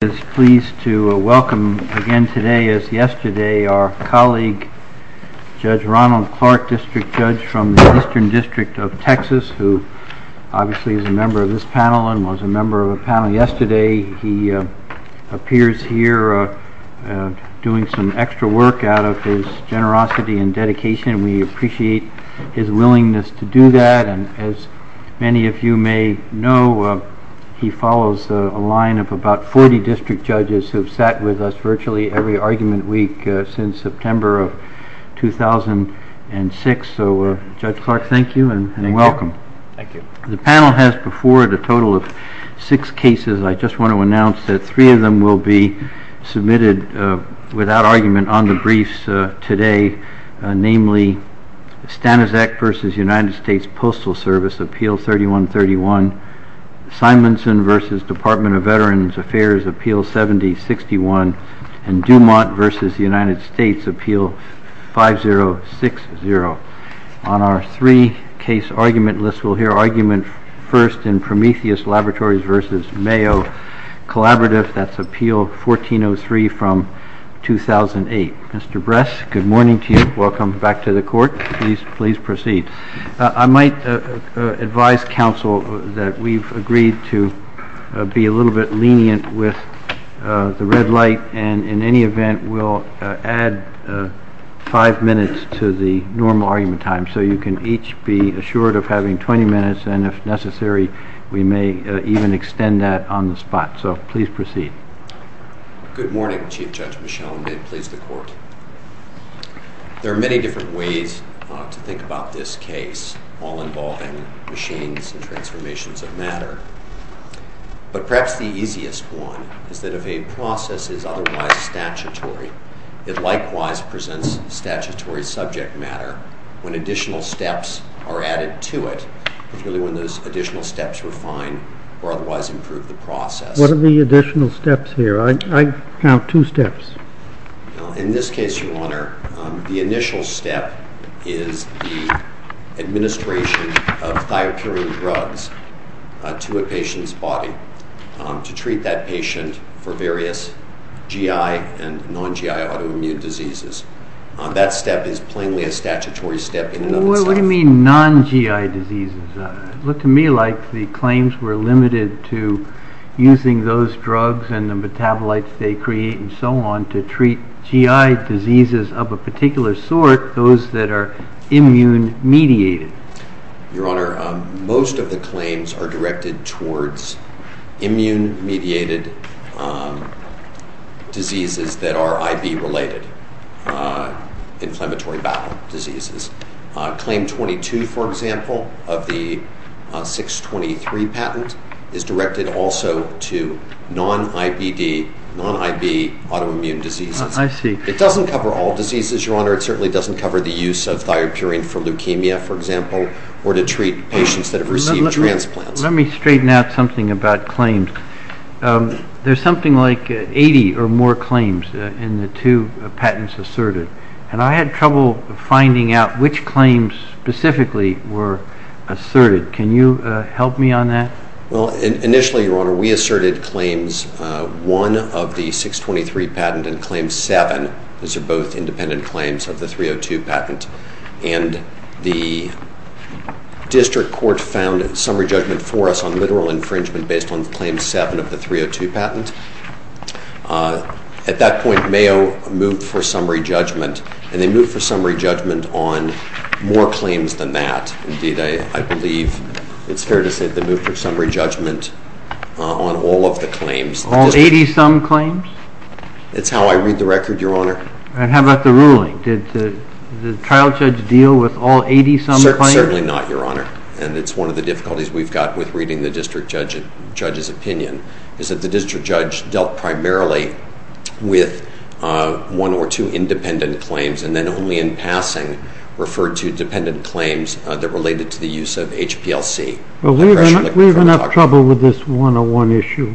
I'm pleased to welcome again today as yesterday our colleague, Judge Ronald Clark, district judge from the Eastern District of Texas, who obviously is a member of this panel and was a member of the panel yesterday. He appears here doing some extra work out of his generosity and dedication. We appreciate his willingness to do that. As many of you may know, he follows a line of about 40 district judges who have sat with us virtually every argument week since September of 2006. Judge Clark, thank you and welcome. The panel has before it a total of six cases. I just want to announce that three of them will be submitted without argument on the briefs today, namely Staniszek v. United States Postal Service, Appeal 3131, Simonson v. Department of Veterans Affairs, Appeal 7061, and Dumont v. United States, Appeal 5060. On our three-case argument list, we'll hear argument first in Prometheus Laboratories v. Mayo Collaborative. That's Appeal 1403 from 2008. Mr. Bress, good morning to you. Welcome back to the court. Please proceed. I might advise counsel that we've agreed to be a little bit lenient with the red light. In any event, we'll add five minutes to the normal argument time so you can each be assured of having 20 minutes. If necessary, we may even extend that on the spot. Please proceed. Good morning, Chief Judge Michel. May it please the court. There are many different ways to think about this case, all involving machines and transformations of matter, but perhaps the easiest one is that if a process is otherwise statutory, it likewise presents statutory subject matter when additional steps are added to it, particularly when those additional steps are fine or otherwise improve the process. What are the additional steps here? I count two steps. In this case, Your Honor, the initial step is the administration of diatribial drugs to a patient's body to treat that patient for various GI and non-GI autoimmune diseases. That step is plainly a statutory step. What do you mean non-GI diseases? It looked to me like the claims were limited to using those drugs and the metabolites they create and so on to treat GI diseases of a particular sort, those that are immune-mediated. Your Honor, most of the claims are directed towards immune-mediated diseases that are IB-related, inflammatory bowel diseases. Claim 22, for example, of the 623 patent is directed also to non-IBD, non-IB autoimmune diseases. It doesn't cover all diseases, Your Honor. It certainly doesn't cover the use of fire-curing for leukemia, for example, or to treat patients that have received transplants. Let me straighten out something about claims. There's something like 80 or more claims in the two patents asserted, and I had trouble finding out which claims specifically were asserted. Can you help me on that? Initially, Your Honor, we asserted claims 1 of the 623 patent and claim 7. These are both independent claims of the 302 patent, and the district court found summary judgment for us on literal infringement based on claim 7 of the 302 patent. At that point, Mayo moved for summary judgment, and they moved for summary judgment on more claims than that. Indeed, I believe it's fair to say they moved for summary judgment on all of the claims. All 80-some claims? That's how I read the record, Your Honor. And how about the ruling? Did the trial judge deal with all 80-some claims? Certainly not, Your Honor, and it's one of the difficulties we've got with reading the district judge's opinion, is that the district judge dealt primarily with one or two independent claims, and then only in passing referred to dependent claims that related to the use of HPLC. Well, we have enough trouble with this 101 issue.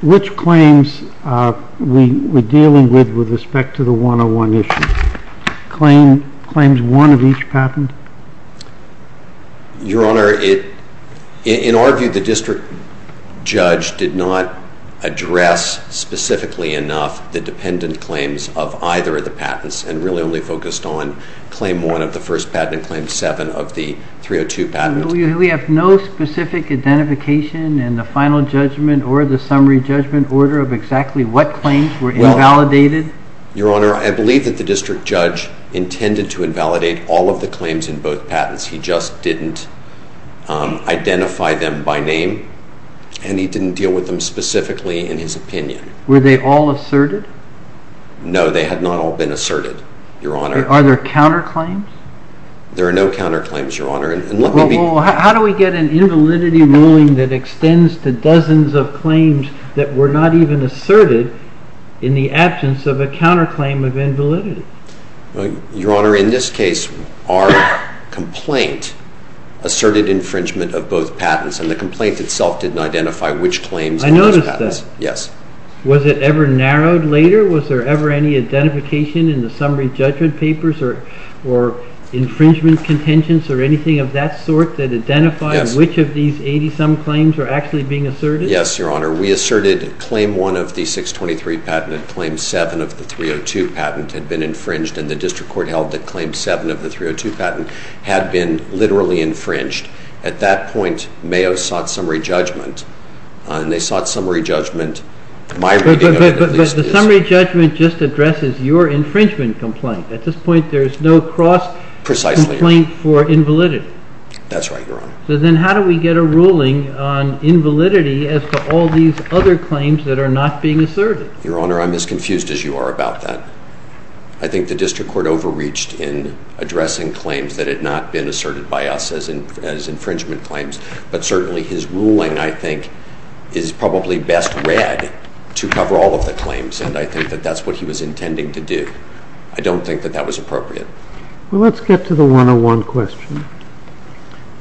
Which claims are we dealing with with respect to the 101 issue? Claims 1 of each patent? Your Honor, in our view, the district judge did not address specifically enough the dependent claims of either of the patents, and really only focused on claim 1 of the first patent and claim 7 of the 302 patent. We have no specific identification in the final judgment or the summary judgment order of exactly what claims were invalidated? Your Honor, I believe that the district judge intended to invalidate all of the claims in both patents. He just didn't identify them by name, and he didn't deal with them specifically in his opinion. Were they all asserted? No, they had not all been asserted, Your Honor. Are there counterclaims? There are no counterclaims, Your Honor. Well, how do we get an invalidity ruling that extends to dozens of claims that were not even asserted in the absence of a counterclaim of invalidity? Your Honor, in this case, our complaint asserted infringement of both patents, and the complaint itself didn't identify which claims were the patents. I noticed this. Yes. Was it ever narrowed later? Was there ever any identification in the summary judgment papers or infringement contingents or anything of that sort that identified which of these 80-some claims were actually being asserted? Yes, Your Honor. We asserted claim 1 of the 623 patent and claim 7 of the 302 patent had been infringed, and the district court held that claim 7 of the 302 patent had been literally infringed. At that point, Mayo sought summary judgment, and they sought summary judgment. But the summary judgment just addresses your infringement complaint. At this point, there's no cross- Precisely. Complaint for invalidity. That's right, Your Honor. But then how do we get a ruling on invalidity as to all these other claims that are not being asserted? Your Honor, I'm as confused as you are about that. I think the district court overreached in addressing claims that had not been asserted by us as infringement claims, but certainly his ruling, I think, is probably best read to cover all of the claims, and I think that that's what he was intending to do. I don't think that that was appropriate. Well, let's get to the 101 question.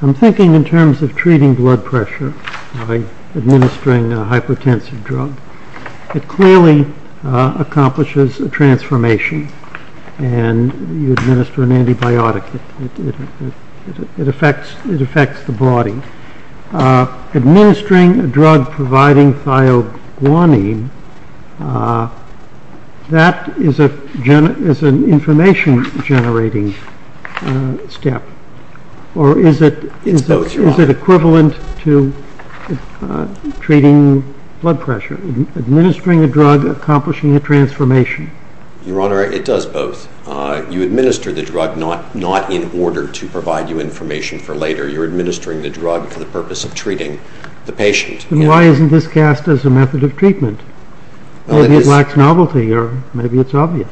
I'm thinking in terms of treating blood pressure by administering a hypertensive drug. It clearly accomplishes a transformation, and you administer an antibiotic. It affects the body. Administering a drug providing thioguanine, that is an information-generating step, or is it equivalent to treating blood pressure? Administering a drug, accomplishing a transformation. Your Honor, it does both. You administer the drug, not in order to provide you information for later. You're administering the drug for the purpose of treating the patient. Then why isn't this cast as a method of treatment? Maybe it lacks novelty, or maybe it's obvious.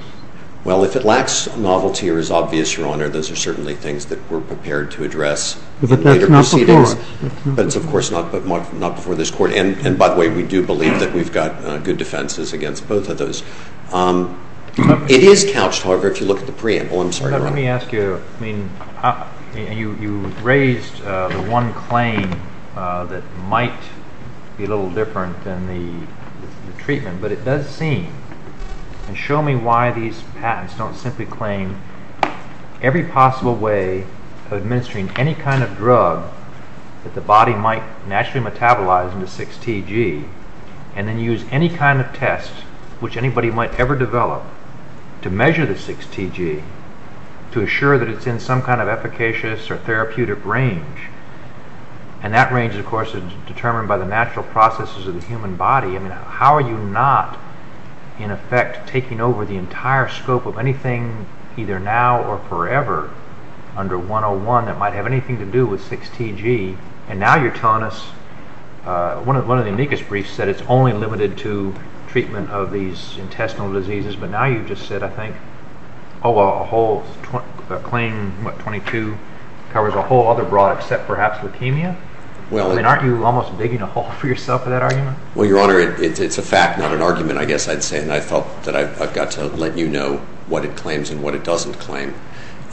Well, if it lacks novelty or is obvious, Your Honor, those are certainly things that we're prepared to address. But that's not before us. That's, of course, not before this court, and by the way, we do believe that we've got good defenses against both of those. It is couched, however, if you look at the preamble. I'm sorry, Your Honor. Let me ask you. You raised the one claim that might be a little different than the treatment, but it does seem. Show me why these patents don't simply claim every possible way of administering any kind of drug that the body might naturally metabolize into 6TG and then use any kind of test which anybody might ever develop to measure the 6TG to assure that it's in some kind of efficacious or therapeutic range. And that range, of course, is determined by the natural processes of the human body. How are you not, in effect, taking over the entire scope of anything either now or forever under 101 that might have anything to do with 6TG? And now you're telling us, one of the amicus briefs said it's only limited to treatment of these intestinal diseases, but now you've just said, I think, oh, a whole claim, what, 22, covers a whole other broad except perhaps leukemia? I mean, aren't you almost digging a hole for yourself with that argument? Well, Your Honor, it's a fact, not an argument, I guess I'd say, and I felt that I've got to let you know what it claims and what it doesn't claim.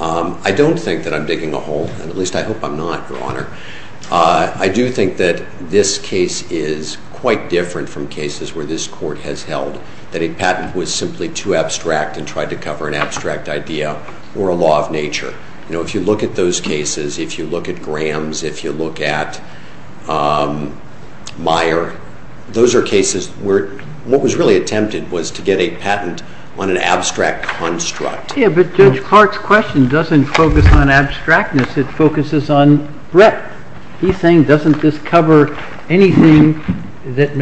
I don't think that I'm digging a hole, at least I hope I'm not, Your Honor. I do think that this case is quite different from cases where this court has held that a patent was simply too abstract and tried to cover an abstract idea or a law of nature. You know, if you look at those cases, if you look at Graham's, if you look at Meyer, those are cases where what was really attempted was to get a patent on an abstract construct. Yeah, but Judge Hart's question doesn't focus on abstractness, it focuses on breadth. He's saying it doesn't just cover anything that,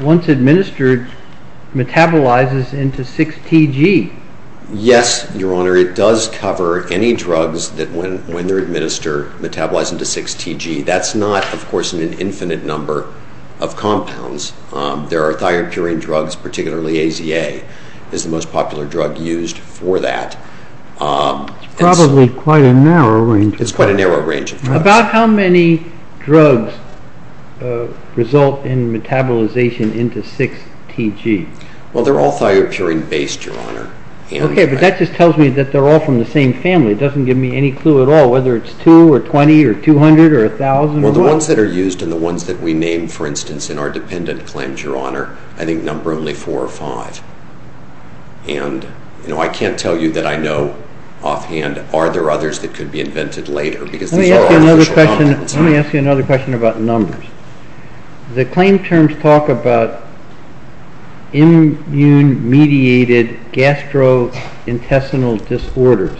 once administered, metabolizes into 6TG. Yes, Your Honor, it does cover any drugs that, when they're administered, metabolize into 6TG. That's not, of course, an infinite number of compounds. There are thyroid-curing drugs, particularly AZA is the most popular drug used for that. It's probably quite a narrow range of drugs. It's quite a narrow range of drugs. About how many drugs result in metabolization into 6TG? Well, they're all thyroid-curing-based, Your Honor. Okay, but that just tells me that they're all from the same family. It doesn't give me any clue at all whether it's 2 or 20 or 200 or 1,000 or what. Well, the ones that are used and the ones that we named, for instance, in our dependent claims, Your Honor, I think number only 4 or 5. And, you know, I can't tell you that I know offhand are there others that could be invented later. Let me ask you another question about numbers. The claim terms talk about immune-mediated gastrointestinal disorders.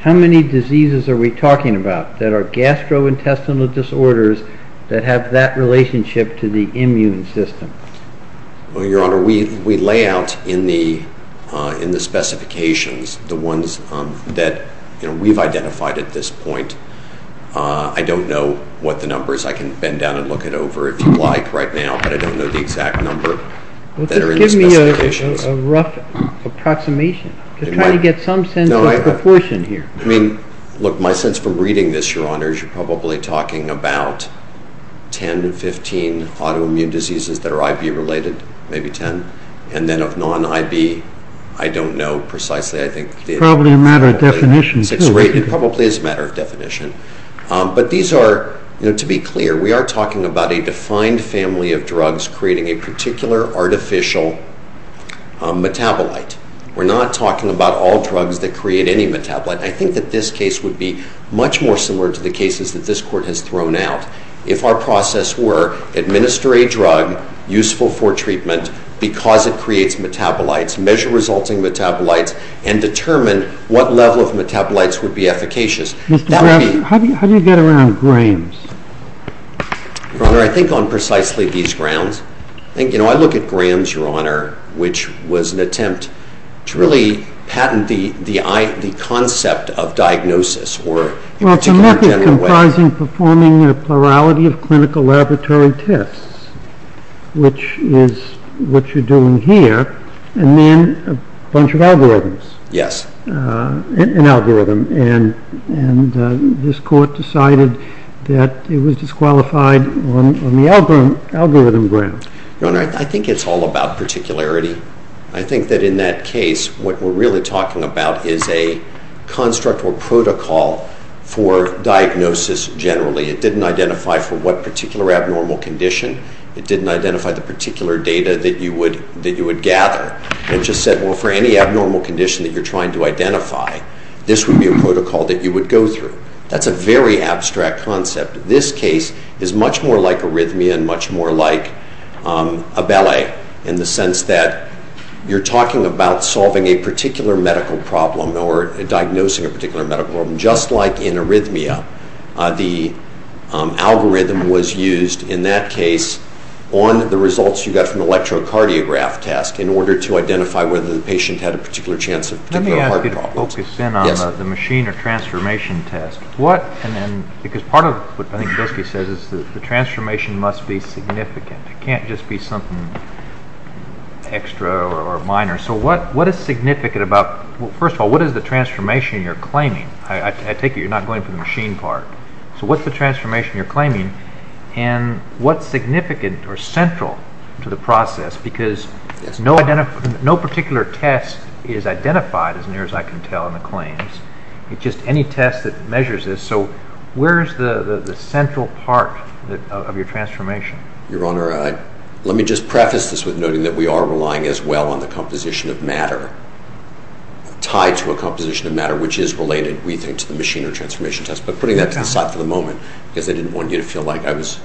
How many diseases are we talking about that are gastrointestinal disorders that have that relationship to the immune system? Well, Your Honor, we lay out in the specifications the ones that we've identified at this point. I don't know what the number is. I can bend down and look it over if you'd like right now, but I don't know the exact number that are in these specifications. Give me a rough approximation to try to get some sense of proportion here. Look, my sense from reading this, Your Honor, is you're probably talking about 10 to 15 autoimmune diseases that are IV-related, maybe 10. And then of non-IV, I don't know precisely. Probably a matter of definition. It probably is a matter of definition. But these are, to be clear, we are talking about a defined family of drugs creating a particular artificial metabolite. We're not talking about all drugs that create any metabolite. I think that this case would be much more similar to the cases that this Court has thrown out. If our process were administer a drug useful for treatment because it creates metabolites, measure resulting metabolites, and determine what level of metabolites would be efficacious. How do you get around grams? Your Honor, I think on precisely these grounds. I look at grams, Your Honor, which was an attempt to really patent the concept of diagnosis. Well, it's a method comprising performing a plurality of clinical laboratory tests, which is what you're doing here, and then a bunch of algorithms. Yes. An algorithm, and this Court decided that it was disqualified on the algorithm grounds. Your Honor, I think it's all about particularity. I think that in that case, what we're really talking about is a construct or protocol for diagnosis generally. It didn't identify for what particular abnormal condition. It didn't identify the particular data that you would gather. It just said, well, for any abnormal condition that you're trying to identify, this would be a protocol that you would go through. That's a very abstract concept. This case is much more like arrhythmia and much more like a ballet in the sense that you're talking about solving a particular medical problem or diagnosing a particular medical problem, just like in arrhythmia. The algorithm was used in that case on the results you got from the electrocardiograph test in order to identify whether the patient had a particular chance of having a heart problem. Let me ask you to focus in on the machine or transformation test. What, and then, because part of what I think Driscoll says is the transformation must be significant. It can't just be something extra or minor. So what is significant about, first of all, what is the transformation you're claiming? I take it you're not going to the machine part. So what's the transformation you're claiming and what's significant or central to the process? Because no particular test is identified as near as I can tell in the claims. It's just any test that measures this. So where is the central part of your transformation? Your Honor, let me just preface this with noting that we are relying as well on the composition of matter, tied to a composition of matter which is related, we think, to the machine or transformation test. But putting that to the side for the moment, because I didn't want you to feel like I was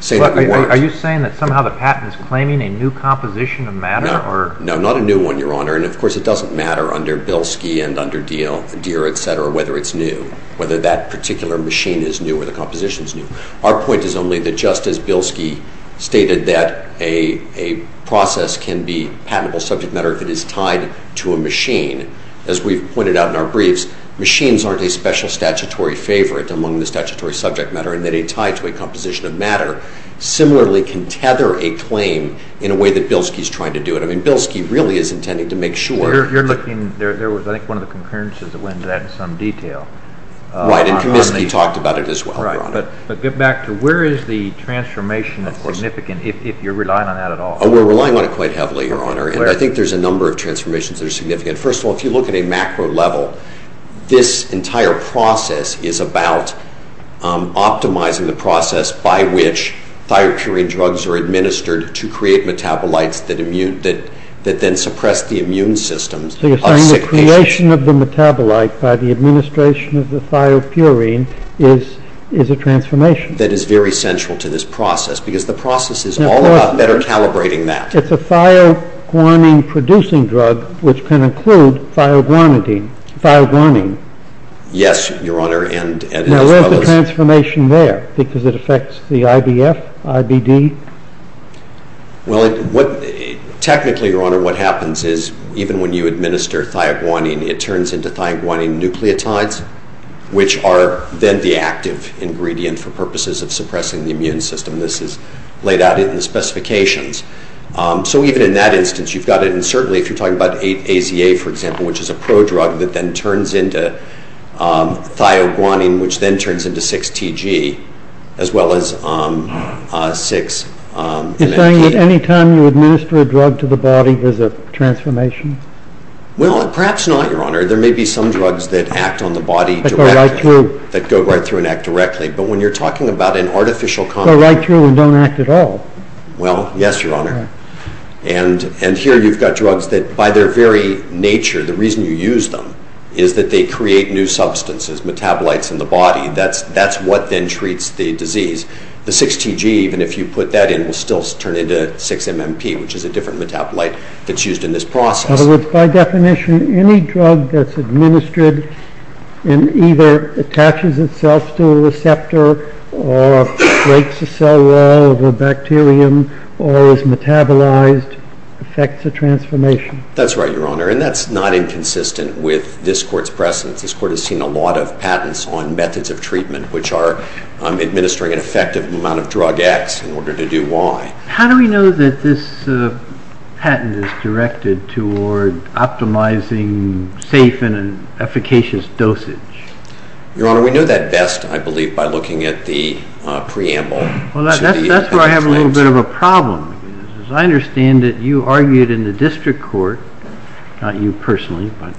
saying that. Are you saying that somehow the patent is claiming a new composition of matter? No, not a new one, Your Honor. And of course it doesn't matter under Bilski and under Deere, et cetera, whether it's new, whether that particular machine is new or the composition is new. Our point is only that just as Bilski stated that a process can be patentable subject matter if it is tied to a machine, as we pointed out in our briefs, machines aren't a special statutory favorite among the statutory subject matter and that a tie to a composition of matter similarly can tether a claim in a way that Bilski is trying to do it. I mean, Bilski really is intending to make sure. You're looking, there was, I think, one of the concurrences that went into that in some detail. Right, and you talked about it as well, Your Honor. Right, but get back to where is the transformation that's significant if you're relying on that at all? We're relying on it quite heavily, Your Honor, and I think there's a number of transformations that are significant. First of all, if you look at a macro level, this entire process is about optimizing the process by which thiopurine drugs are administered to create metabolites that then suppress the immune systems. So you're saying the creation of the metabolite by the administration of the thiopurine is a transformation. That is very central to this process because the process is all about better calibrating that. It's a thioguanine-producing drug which can include thioguanine. Yes, Your Honor. Now, what's the transformation there because it affects the IBF, IBD? Well, technically, Your Honor, what happens is even when you administer thioguanine, it turns into thioguanine nucleotides, which are then the active ingredient for purposes of suppressing the immune system. This is laid out in the specifications. So even in that instance, you've got it. And certainly if you're talking about ATA, for example, which is a prodrug that then turns into thioguanine, which then turns into 6TG as well as 6- You're saying that any time you administer a drug to the body, there's a transformation? Well, perhaps not, Your Honor. There may be some drugs that act on the body- That go right through. That go right through and act directly. But when you're talking about an artificial- That go right through and don't act at all. Well, yes, Your Honor. And here you've got drugs that by their very nature, the reason you use them is that they create new substances, metabolites in the body. That's what then treats the disease. The 6TG, even if you put that in, will still turn into 6MMT, which is a different metabolite that's used in this process. In other words, by definition, any drug that's administered and either attaches itself to a receptor or breaks a cell wall of a bacterium or is metabolized affects a transformation. That's right, Your Honor. And that's not inconsistent with this Court's precedent. This Court has seen a lot of patents on methods of treatment which are administering an effective amount of drug X in order to do Y. How do we know that this patent is directed toward optimizing safe and efficacious dosage? Your Honor, we know that best, I believe, by looking at the preamble. Well, that's where I have a little bit of a problem. As I understand it, you argued in the District Court, not you personally, but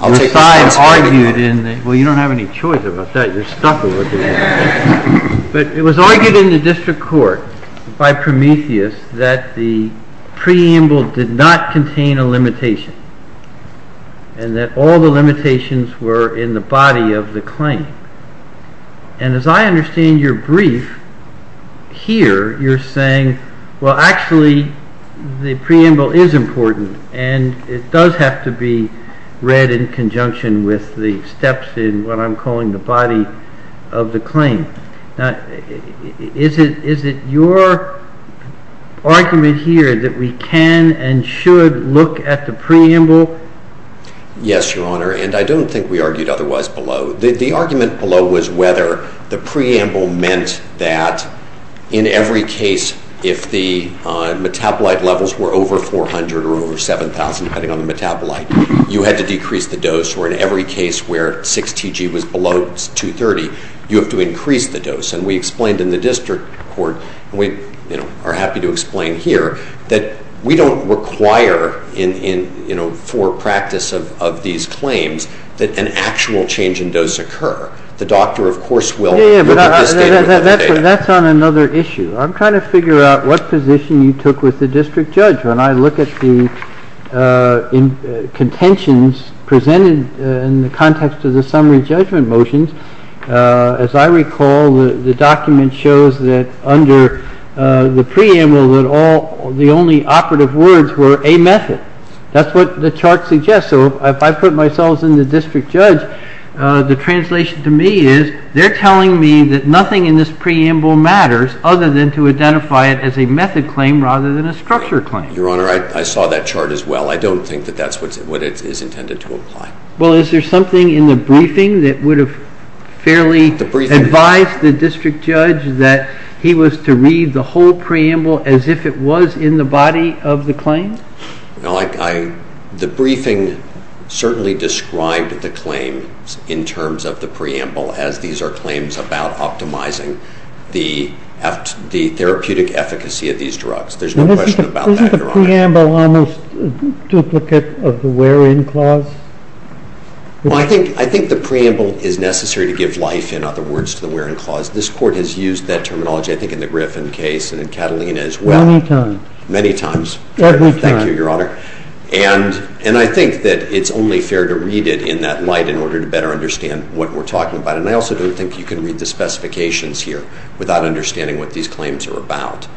your side argued in the… Well, you don't have any choice about that. You're stumped over there. But it was argued in the District Court by Prometheus that the preamble did not contain a limitation and that all the limitations were in the body of the claim. And as I understand your brief, here you're saying, well, actually, the preamble is important and it does have to be read in conjunction with the steps in what I'm calling the body of the claim. Is it your argument here that we can and should look at the preamble? Yes, Your Honor, and I don't think we argued otherwise below. The argument below was whether the preamble meant that in every case, if the metabolite levels were over 400 or over 7,000, depending on the metabolite, you had to decrease the dose, or in every case where 6TG was below 230, you have to increase the dose. And we explained in the District Court, and we are happy to explain here, that we don't require for practice of these claims that an actual change in dose occur. The doctor, of course, will. That's on another issue. I'm trying to figure out what position you took with the district judge. When I look at the contentions presented in the context of the summary judgment motions, as I recall, the document shows that under the preamble, the only operative words were a method. That's what the chart suggests. So if I put myself in the district judge, the translation to me is, they're telling me that nothing in this preamble matters other than to identify it as a method claim rather than a structure claim. Your Honor, I saw that chart as well. I don't think that that's what it is intended to imply. Well, is there something in the briefing that would have fairly advised the district judge that he was to read the whole preamble as if it was in the body of the claim? The briefing certainly described the claim in terms of the preamble, as these are claims about optimizing the therapeutic efficacy of these drugs. Isn't the preamble almost a duplicate of the Waring Clause? Well, I think the preamble is necessary to give life, in other words, to the Waring Clause. This Court has used that terminology, I think, in the Griffin case and in Catalina as well. Many times. Many times. Thank you, Your Honor. And I think that it's only fair to read it in that light in order to better understand what we're talking about. And I also don't think you can read the specifications here without understanding what these claims are about.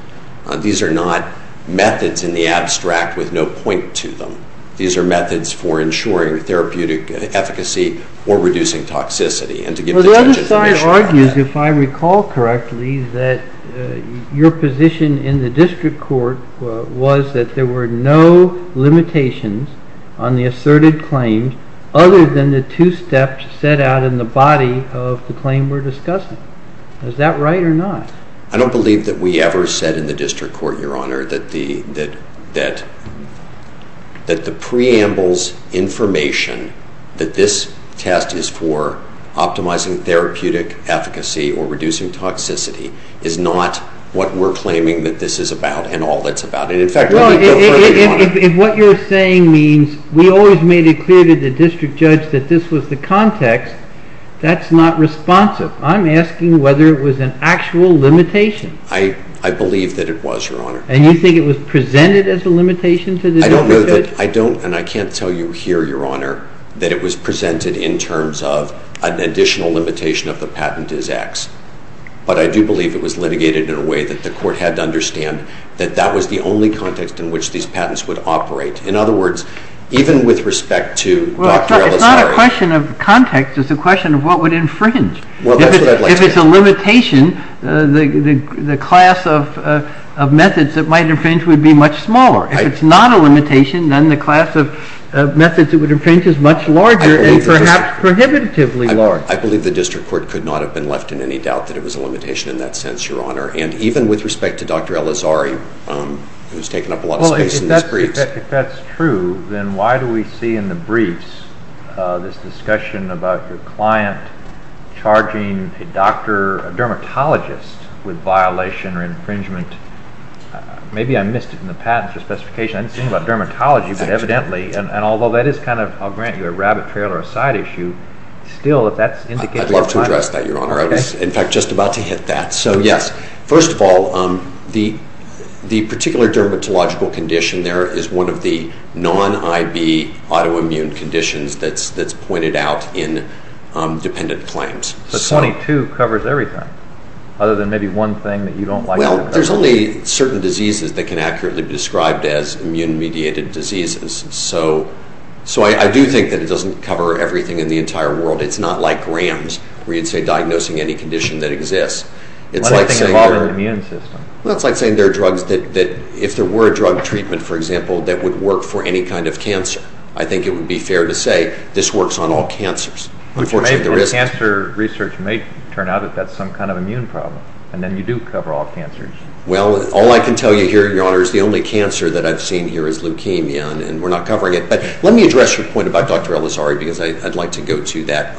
These are not methods in the abstract with no point to them. These are methods for ensuring therapeutic efficacy or reducing toxicity. Well, the other side argues, if I recall correctly, that your position in the district court was that there were no limitations on the asserted claims other than the two steps set out in the body of the claim we're discussing. Is that right or not? I don't believe that we ever said in the district court, Your Honor, that the preamble's information, that this test is for optimizing therapeutic efficacy or reducing toxicity, is not what we're claiming that this is about and all that's about it. In fact, that's what I'm saying, Your Honor. If what you're saying means we always made it clear to the district judge that this was the context, that's not responsive. I'm asking whether it was an actual limitation. I believe that it was, Your Honor. And you think it was presented as a limitation to the district judge? I don't know that. I don't, and I can't tell you here, Your Honor, that it was presented in terms of an additional limitation of the patent is X. But I do believe it was litigated in a way that the court had to understand that that was the only context in which these patents would operate. In other words, even with respect to Dr. Ellis- It's not a question of context. It's a question of what would infringe. If it's a limitation, the class of methods that might infringe would be much smaller. If it's not a limitation, then the class of methods that would infringe is much larger and perhaps prohibitively larger. I believe the district court could not have been left in any doubt that it was a limitation in that sense, Your Honor. And even with respect to Dr. Ellis-Ari, who's taken up a lot of space in this brief. If that's true, then why do we see in the briefs this discussion about your client charging a doctor, a dermatologist, with violation or infringement? Maybe I missed it in the patent specification. I didn't think about dermatology, but evidently, and although that is kind of, I'll grant you, a rabbit trail or a side issue, still, if that's indicated- I'd love to address that, Your Honor. In fact, just about to hit that. So, yes. First of all, the particular dermatological condition there is one of the non-IV autoimmune conditions that's pointed out in dependent claims. But 22 covers everything, other than maybe one thing that you don't like- Well, there's only certain diseases that can accurately be described as immune-mediated diseases. So, I do think that it doesn't cover everything in the entire world. It's not like RAMS, where you'd say diagnosing any condition that exists. It's like saying there are drugs that, if there were a drug treatment, for example, that would work for any kind of cancer, I think it would be fair to say this works on all cancers. Cancer research may turn out that that's some kind of immune problem, and then you do cover all cancers. Well, all I can tell you here, Your Honor, is the only cancer that I've seen here is leukemia, and we're not covering it. Let me address your point about Dr. Elizari, because I'd like to go to that.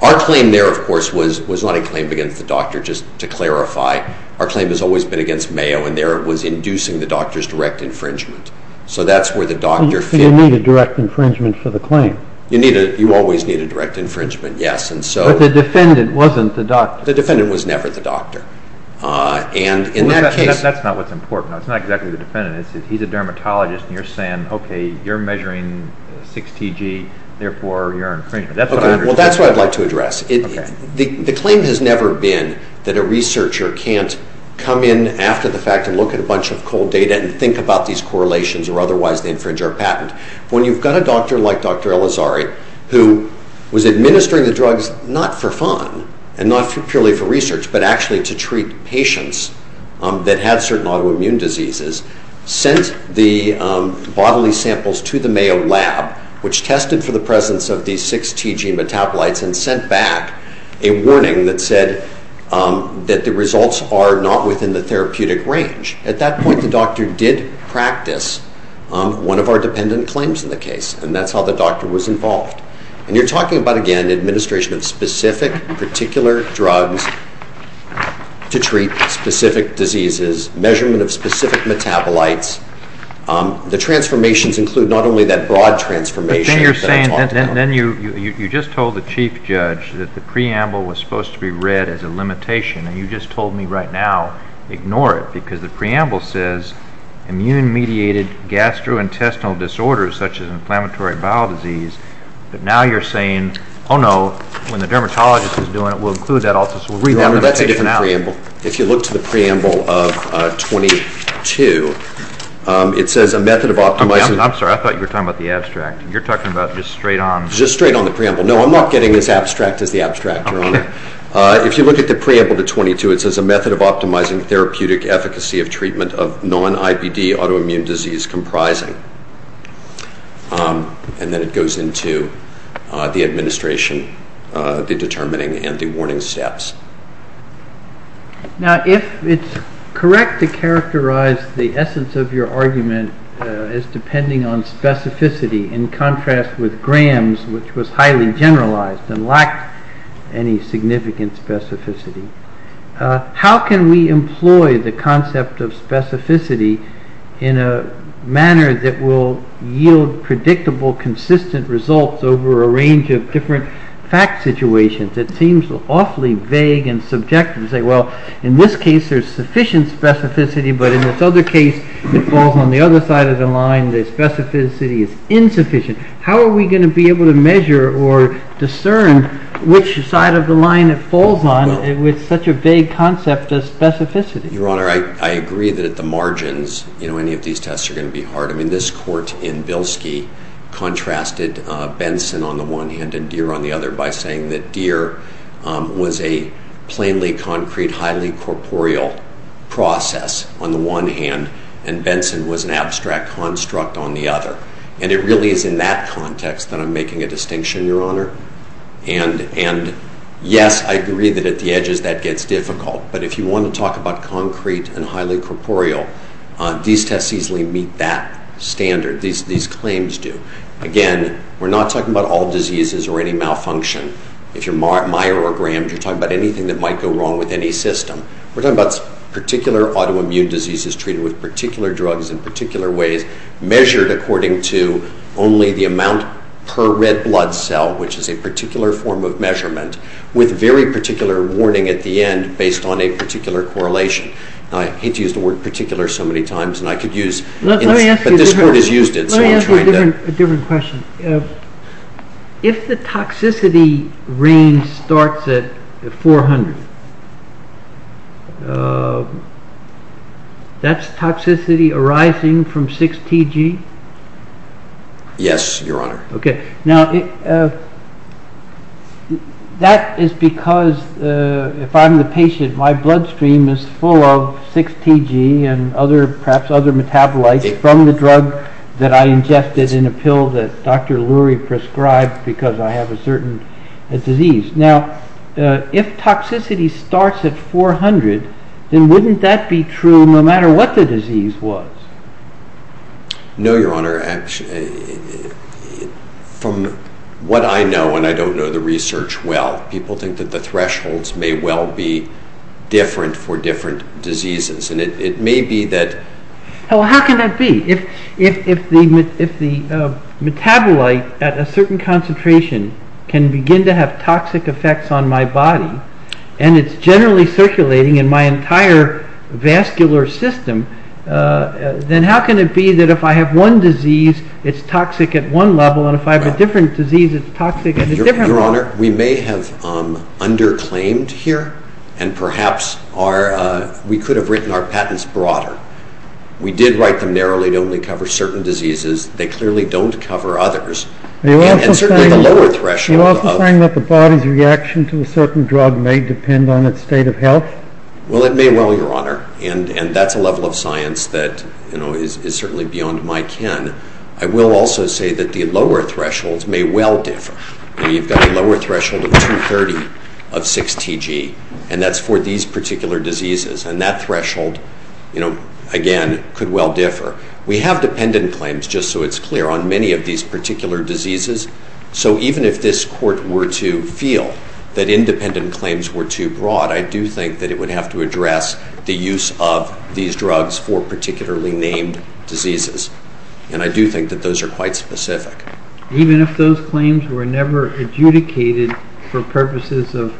Our claim there, of course, was not a claim against the doctor. Just to clarify, our claim has always been against Mayo, and there it was inducing the doctor's direct infringement. So, that's where the doctor- You needed direct infringement for the claim. You always needed direct infringement, yes. But the defendant wasn't the doctor. The defendant was never the doctor. That's not what's important. It's not exactly the defendant. He's a dermatologist, and you're saying, okay, you're measuring 6TG, therefore you're infringing. Well, that's what I'd like to address. The claim has never been that a researcher can't come in after the fact and look at a bunch of cold data and think about these correlations, or otherwise they infringe our patent. When you've got a doctor like Dr. Elizari, who was administering the drugs not for fun and not purely for research, but actually to treat patients that had certain autoimmune diseases, sent the bodily samples to the Mayo lab, which tested for the presence of these 6TG metabolites, and sent back a warning that said that the results are not within the therapeutic range. At that point, the doctor did practice one of our dependent claims in the case, and that's how the doctor was involved. And you're talking about, again, administration of specific and particular drugs to treat specific diseases, measurement of specific metabolites. The transformations include not only that broad transformation. Then you just told the chief judge that the preamble was supposed to be read as a limitation, and you just told me right now, ignore it, because the preamble says, immune-mediated gastrointestinal disorders, such as inflammatory bowel disease. But now you're saying, oh, no, when the dermatologist is doing it, we'll include that also, so we'll read that limitation out. That's a different preamble. If you look to the preamble of 22, it says a method of optimizing... I'm sorry, I thought you were talking about the abstract. You're talking about just straight on... Just straight on the preamble. No, I'm not getting as abstract as the abstract. Okay. If you look at the preamble to 22, it says, a method of optimizing therapeutic efficacy of treatment of non-IBD autoimmune disease comprising... And then it goes into the administration, the determining and the warning stats. Now, if it's correct to characterize the essence of your argument as depending on specificity, in contrast with Graham's, which was highly generalized and lacked any significant specificity, how can we employ the concept of specificity in a manner that will yield predictable, consistent results over a range of different fact situations? It seems awfully vague and subjective to say, well, in this case, there's sufficient specificity, but in this other case, it falls on the other side of the line. The specificity is insufficient. How are we going to be able to measure or discern which side of the line it falls on with such a vague concept as specificity? Your Honor, I agree that at the margins, any of these tests are going to be hard. I mean, this court in Bilski contrasted Benson on the one hand and Deere on the other by saying that Deere was a plainly concrete, highly corporeal process on the one hand, and Benson was an abstract construct on the other. And it really is in that context that I'm making a distinction, Your Honor. And yes, I agree that at the edges, that gets difficult, but if you want to talk about concrete and highly corporeal, these tests easily meet that standard. These claims do. Again, we're not talking about all diseases or any malfunction. If you're myogrammed, you're talking about anything that might go wrong with any system. We're talking about particular autoimmune diseases treated with particular drugs in particular ways, measured according to only the amount per red blood cell, which is a particular form of measurement, with very particular warning at the end based on a particular correlation. I hate to use the word particular so many times, and I could use it, but this court has used it. Let me ask you a different question. If the toxicity range starts at 400, that's toxicity arising from 6TG? Yes, Your Honor. Okay. Now, that is because if I'm the patient, my bloodstream is full of 6TG and perhaps other metabolites from the drug that I ingested in a pill that Dr. Lurie prescribed because I have a certain disease. Now, if toxicity starts at 400, then wouldn't that be true no matter what the disease was? No, Your Honor. From what I know, and I don't know the research well, people think that the thresholds may well be different for different diseases, and it may be that... Well, how can that be? If the metabolite at a certain concentration can begin to have toxic effects on my body and it's generally circulating in my entire vascular system, then how can it be that if I have one disease, it's toxic at one level and if I have a different disease, it's toxic at a different level? Your Honor, we may have underclaimed here and perhaps we could have written our patents broader. We did write them narrowly. They only cover certain diseases. They clearly don't cover others. Do you also find that the body's reaction to a certain drug may depend on its state of health? Well, it may well, Your Honor, and that's a level of science that is certainly beyond my kin. I will also say that the lower thresholds may well differ. You've got a lower threshold of 230 of 6TG, and that's for these particular diseases, and that threshold, again, could well differ. We have dependent claims, just so it's clear, on many of these particular diseases, so even if this court were to feel that independent claims were too broad, I do think that it would have to address the use of these drugs for particularly named diseases, and I do think that those are quite specific. Even if those claims were never adjudicated for purposes of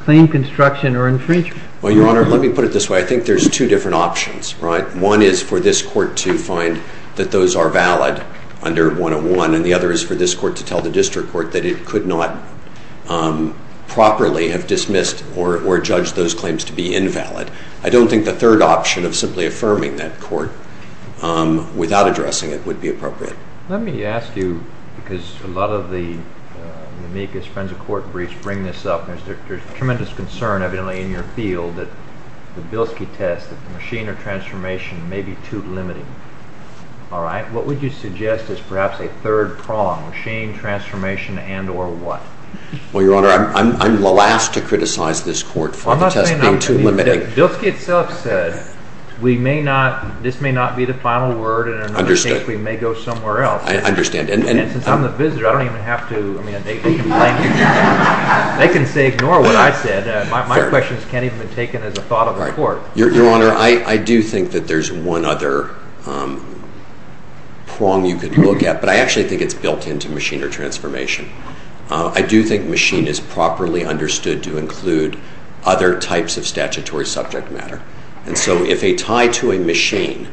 claim construction or infringement. Well, Your Honor, let me put it this way. I think there's two different options. One is for this court to find that those are valid under 101, and the other is for this court to tell the district court that it could not properly have dismissed or judged those claims to be invalid. I don't think the third option of simply affirming that court without addressing it would be appropriate. Let me ask you, because a lot of the amicus friends of court briefs bring this up, there's tremendous concern, evidently, in your field that the Bilski test, the machine of transformation, may be too limited. All right? What would you suggest is perhaps a third prong, machine transformation and or what? Well, Your Honor, I'm the last to criticize this court for the test being too limited. Bilski itself said this may not be the final word, and in another case we may go somewhere else. I understand. And since I'm the visitor, I don't even have to make a complaint. They can say ignore what I said. My question can't even be taken as a thought of the court. Your Honor, I do think that there's one other prong you could look at, but I actually think it's built into machine of transformation. I do think machine is properly understood to include other types of statutory subject matter. And so if a tie to a machine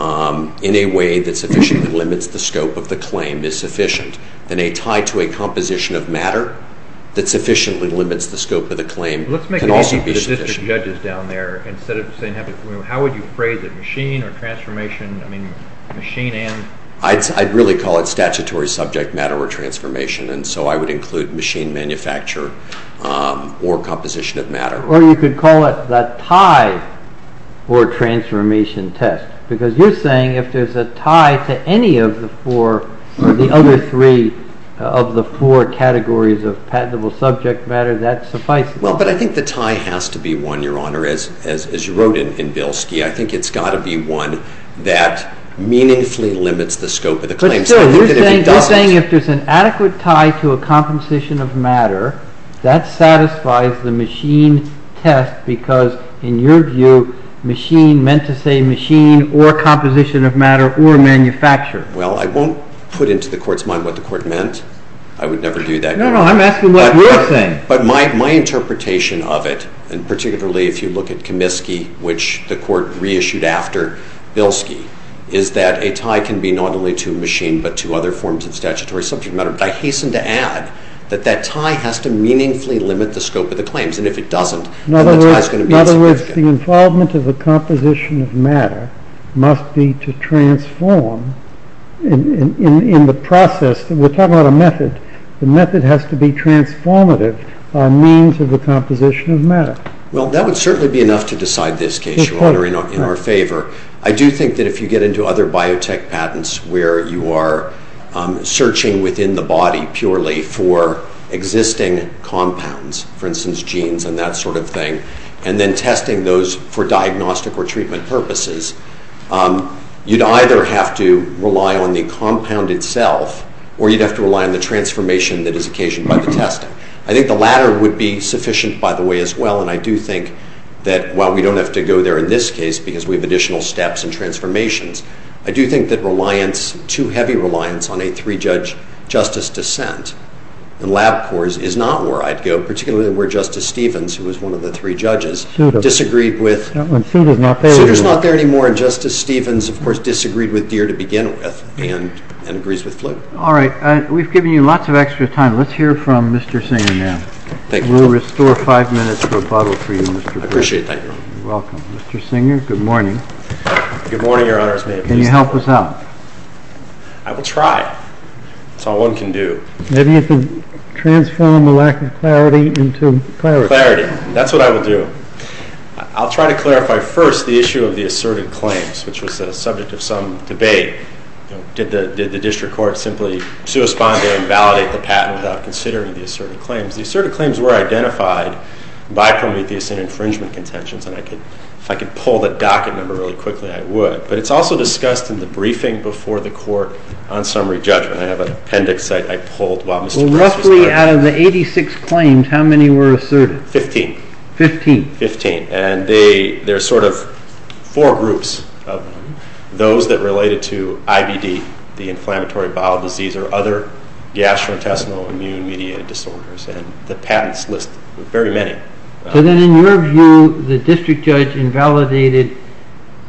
in a way that sufficiently limits the scope of the claim is sufficient, then a tie to a composition of matter that sufficiently limits the scope of the claim can also be sufficient. Let's make an issue for the judges down there. Instead of saying how would you phrase it, machine or transformation, I mean machine and? I'd really call it statutory subject matter or transformation, Or you could call it the tie or transformation test, because you're saying if there's a tie to any of the four or the other three of the four categories of patentable subject matter, that's sufficient. Well, but I think the tie has to be one, Your Honor, as you wrote in Bilski. I think it's got to be one that meaningfully limits the scope of the claim. You're saying if there's an adequate tie to a composition of matter, that satisfies the machine test, because in your view, machine meant to say machine or composition of matter or manufacture. Well, I won't put into the court's mind what the court meant. I would never do that. No, no, I'm asking what you're saying. But my interpretation of it, and particularly if you look at Comiskey, which the court reissued after Bilski, is that a tie can be not only to a machine but to other forms of statutory subject matter. But I hasten to add that that tie has to meaningfully limit the scope of the claims. And if it doesn't, then the tie is going to be insufficient. In other words, the involvement of the composition of matter must be to transform in the process. We're talking about a method. The method has to be transformative by means of the composition of matter. Well, that would certainly be enough to decide this case, Your Honor, in our favor. I do think that if you get into other biotech patents where you are searching within the body purely for existing compounds, for instance, genes and that sort of thing, and then testing those for diagnostic or treatment purposes, you'd either have to rely on the compound itself, or you'd have to rely on the transformation that is occasioned by the testing. I think the latter would be sufficient, by the way, as well. And I do think that while we don't have to go there in this case because we have additional steps and transformations, I do think that reliance, too heavy reliance, on a three-judge justice dissent in lab courts is not where I'd go, particularly where Justice Stevens, who was one of the three judges, disagreed with… Souter's not there anymore. Souter's not there anymore, and Justice Stevens, of course, disagreed with Deere to begin with and agrees with Fluke. All right. We've given you lots of extra time. Let's hear from Mr. Sandman. We'll restore five minutes for a bottle for you, Mr. Pierce. I appreciate that, Your Honor. You're welcome. Mr. Singer, good morning. Good morning, Your Honor. Can you help us out? I will try. That's all one can do. Maybe you can transform a lack of clarity into clarity. Clarity. That's what I will do. I'll try to clarify first the issue of the asserted claims, which was the subject of some debate. Did the district court simply suspend or invalidate the patent without considering the asserted claims? The asserted claims were identified by criminal defense and infringement contentions, and if I could pull the docket number really quickly, I would. But it's also discussed in the briefing before the court on summary judgment. I have an appendix that I pulled while Mr. Pierce was there. Well, roughly out of the 86 claims, how many were asserted? Fifteen. Fifteen. Fifteen. And there's sort of four groups of them. Those that related to IBD, the inflammatory bowel disease, or other gastrointestinal immune media disorders, and the patents list. Very many. So then in your view, the district judge invalidated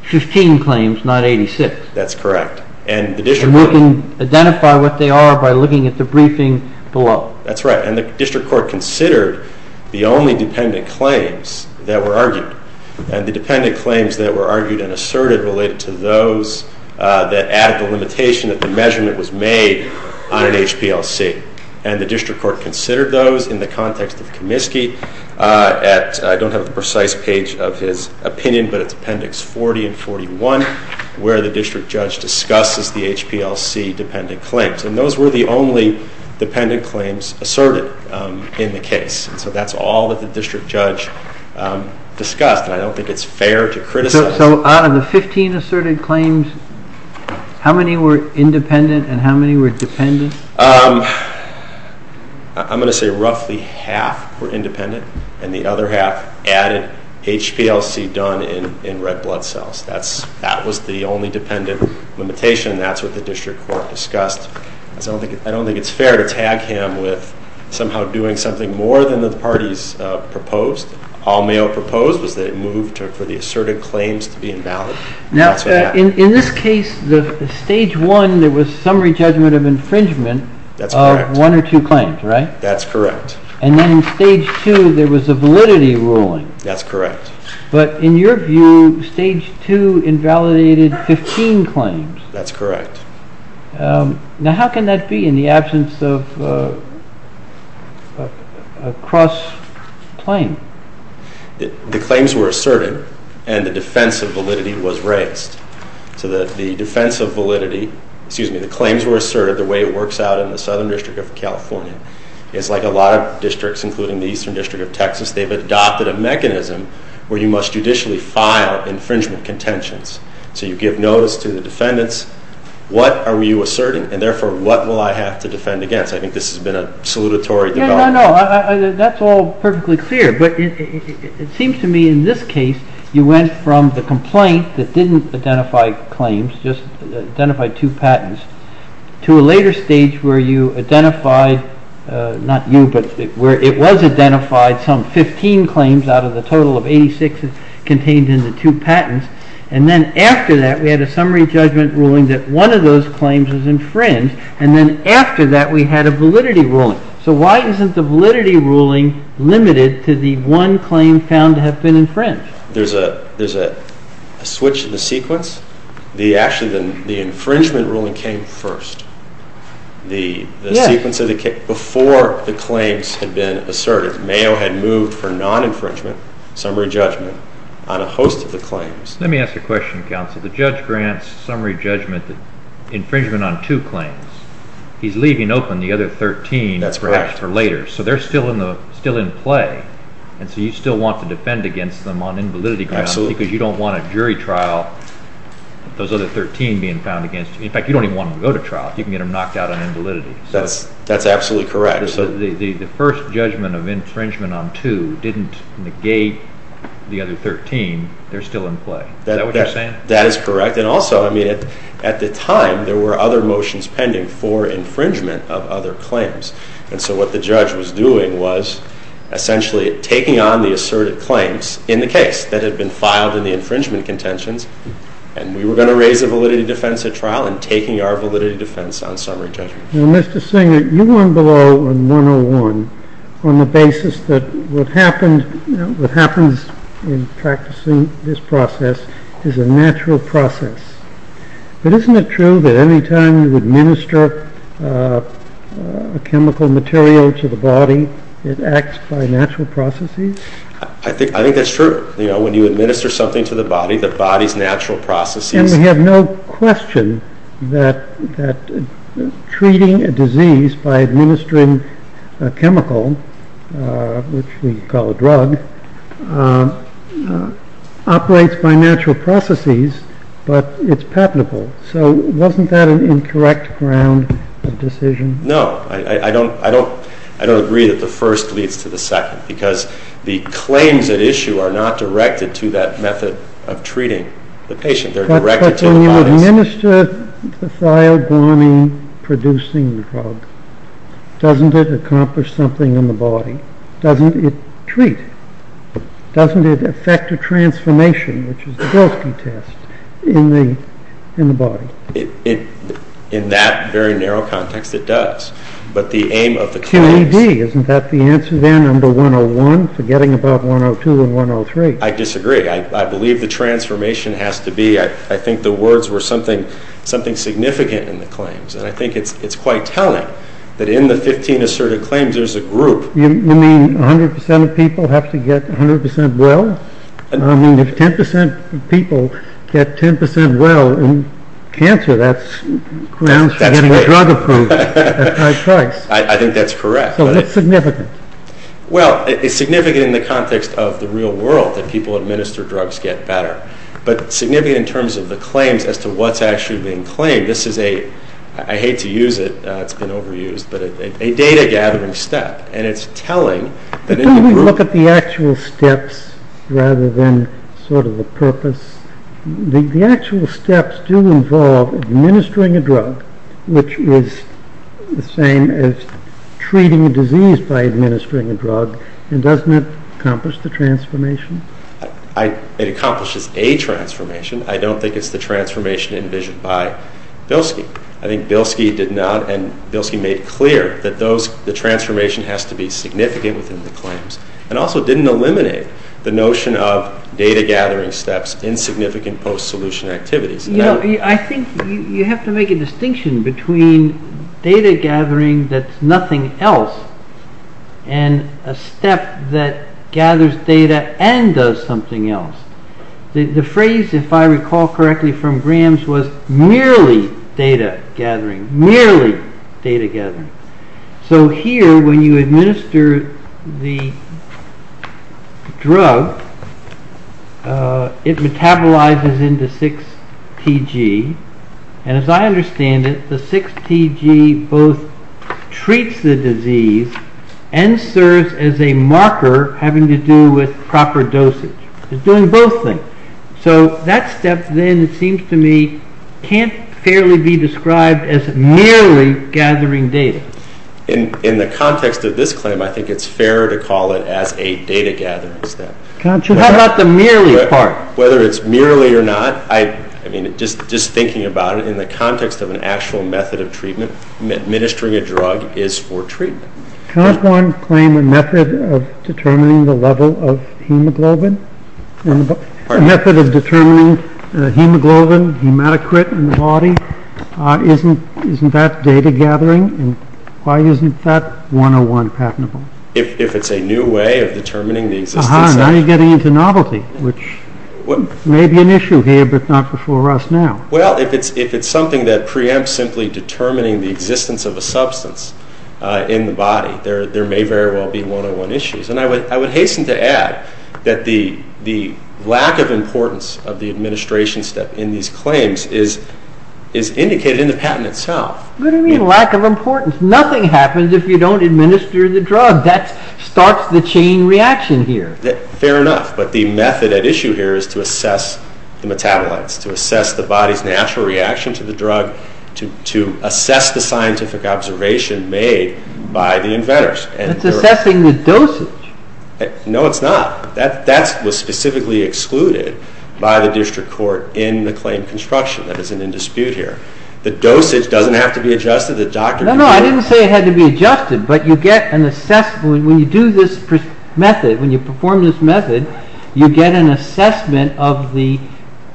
15 claims, not 86. That's correct. And we can identify what they are by looking at the briefing below. That's right. And the district court considered the only dependent claims that were argued, and the dependent claims that were argued and asserted related to those that add to the limitation of the measurement that was made on an HPLC. And the district court considered those in the context of Comiskey at, I don't have the precise page of his opinion, but it's appendix 40 and 41, where the district judge discusses the HPLC dependent claims. And those were the only dependent claims asserted in the case. So that's all that the district judge discussed, and I don't think it's fair to criticize. So out of the 15 asserted claims, how many were independent and how many were dependent? I'm going to say roughly half were independent, and the other half added HPLC done in red blood cells. That was the only dependent limitation, and that's what the district court discussed. I don't think it's fair to tag him with somehow doing something more than the parties proposed. Paul Mayo proposed that it move for the asserted claims to be invalid. Now, in this case, the Stage 1, there was summary judgment of infringement of one or two claims, right? That's correct. And then in Stage 2, there was a validity ruling. That's correct. But in your view, Stage 2 invalidated 15 claims. That's correct. Now, how can that be in the absence of a cross-claim? The claims were asserted, and the defense of validity was raised. So that the defense of validity, excuse me, the claims were asserted the way it works out in the Southern District of California. It's like a lot of districts, including the Eastern District of Texas, they've adopted a mechanism where you must judicially file infringement contentions. So you give notice to the defendants. What are you asserting? And therefore, what will I have to defend against? I think this has been a salutatory development. No, no, no. That's all perfectly clear. But it seems to me in this case, you went from the complaint that didn't identify claims, just identified two patents, to a later stage where you identified, not you, but where it was identified some 15 claims out of the total of 86 contained in the two patents. And then after that, we had a summary judgment ruling that one of those claims was infringed. And then after that, we had a validity ruling. So why isn't the validity ruling limited to the one claim found to have been infringed? There's a switch in the sequence. Actually, the infringement ruling came first. Yes. Before the claims had been asserted. Mayo had moved for non-infringement, summary judgment, on a host of the claims. Let me ask you a question, counsel. The judge grants summary judgment infringement on two claims. He's leaving open the other 13 perhaps for later. So they're still in play. And so you still want to defend against them on invalidity grounds because you don't want a jury trial, those other 13 being found against you. In fact, you don't even want them to go to trial. You can get them knocked out on invalidity. That's absolutely correct. So the first judgment of infringement on two didn't negate the other 13. They're still in play. Is that what you're saying? That is correct. And also, I mean, at the time, there were other motions pending for infringement of other claims. And so what the judge was doing was essentially taking on the asserted claims in the case that had been filed in the infringement contentions, and we were going to raise a validity defense at trial and taking our validity defense on summary judgment. Now, Mr. Singer, you went below a 101 on the basis that what happens in practicing this process is a natural process. But isn't it true that any time you administer a chemical material to the body, it acts by natural processes? I think that's true. You know, when you administer something to the body, the body's natural processes. And we have no question that treating a disease by administering a chemical, which we call a drug, operates by natural processes, but it's palpable. So wasn't that an incorrect round of decision? No. I don't agree that the first leads to the second because the claims at issue are not directed to that method of treating the patient. They're directed to the body. But when you administer the thiobomine-producing drug, doesn't it accomplish something in the body? Doesn't it treat? Doesn't it affect a transformation, which is a guilty test, in the body? In that very narrow context, it does. But the aim of the claim — Can we be? Isn't that the answer there, number 101, forgetting about 102 and 103? I disagree. I believe the transformation has to be — I think the words were something significant in the claims. And I think it's quite telling that in the 15 asserted claims, there's a group. You mean 100% of people have to get 100% well? I mean, if 10% of people get 10% well in cancer, that's grounds for having no drug approved. I think that's correct. So what's significant? Well, it's significant in the context of the real world that people administer drugs get better. But significant in terms of the claims as to what's actually being claimed. This is a — I hate to use it. It's been overused. But a data-gathering step. And it's telling. But don't we look at the actual steps rather than sort of the purpose? The actual steps do involve administering a drug, which is the same as treating a disease by administering a drug. And doesn't it accomplish the transformation? It accomplishes a transformation. I don't think it's the transformation envisioned by Bilski. I think Bilski did not. And Bilski made clear that the transformation has to be significant in the claims. And also didn't eliminate the notion of data-gathering steps in significant post-solution activities. I think you have to make a distinction between data-gathering that's nothing else and a step that gathers data and does something else. The phrase, if I recall correctly from Graham's, was merely data-gathering. Merely data-gathering. So here, when you administer the drug, it metabolizes into 6TG. And as I understand it, the 6TG both treats the disease and serves as a marker having to do with proper dosage. It's doing both things. So that step then seems to me can't fairly be described as merely gathering data. In the context of this claim, I think it's fair to call it a data-gathering step. How about the merely part? Whether it's merely or not, just thinking about it, in the context of an actual method of treatment, administering a drug is for treatment. Can't one claim a method of determining the level of hemoglobin? A method of determining hemoglobin, hematocrit, and quality? Isn't that data-gathering? Why isn't that 101 patentable? If it's a new way of determining the existence of a substance. Aha, now you're getting into novelty, which may be an issue here, but not before us now. Well, if it's something that preempts simply determining the existence of a substance in the body, there may very well be 101 issues. And I would hasten to add that the lack of importance of the administration step in these claims is indicated in the patent itself. What do you mean lack of importance? Nothing happens if you don't administer the drug. That starts the chain reaction here. Fair enough. But the method at issue here is to assess the metabolites, to assess the body's natural reaction to the drug, to assess the scientific observation made by the inventors. That's assessing the dosage. No, it's not. That was specifically excluded by the district court in the claim construction that is in dispute here. The dosage doesn't have to be adjusted. No, no, I didn't say it had to be adjusted. When you do this method, when you perform this method, you get an assessment of the